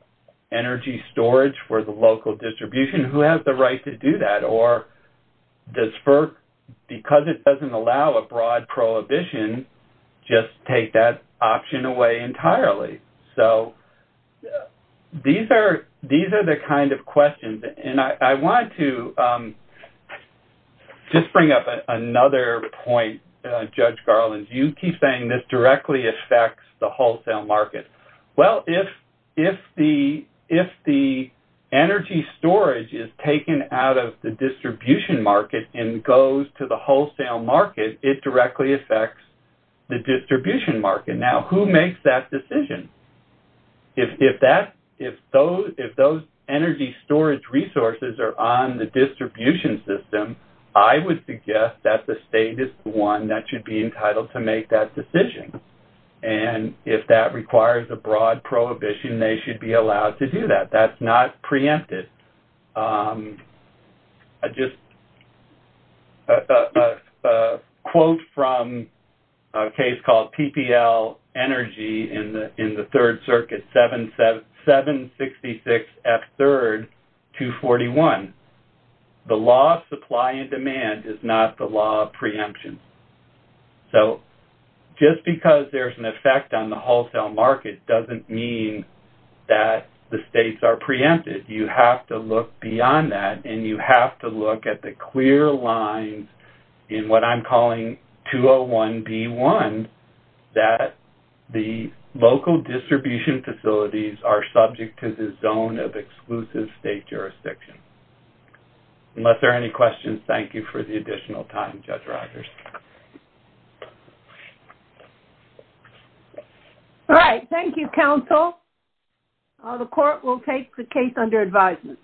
energy storage for the local distribution, who has the right to do that? Or, does FERC, because it doesn't allow a broad prohibition, just take that option away entirely. So, these are, these are the kind of questions and I, I want to, just bring up another point, Judge Garland, you keep saying this directly affects the wholesale market. Well, if, if the, if the energy storage is taken out of the distribution market and goes to the wholesale market, it directly affects the distribution market. Now, who makes that decision? If, if that, if those, if those energy storage resources are on the distribution system, I would suggest that the state is the one that should be entitled to make that decision. And if that requires a broad prohibition, they should be allowed to do that. That's not preempted. I just, quote from a case called PPL energy in the, in the third circuit, 7, 7, 6, 6, F 3rd, 2 41. The law of supply and demand is not the law of preemption. So, just because there's an effect on the wholesale market doesn't mean that the states are preempted. You have to look beyond that and you have to look at the clear line in what I'm calling 2 0 1 B 1, that the local distribution facilities are subject to the zone of exclusive state jurisdiction. Unless there are any questions. Thank you for the additional time judge Rogers. All right. Thank you. Counsel. The court will take the case under advisement.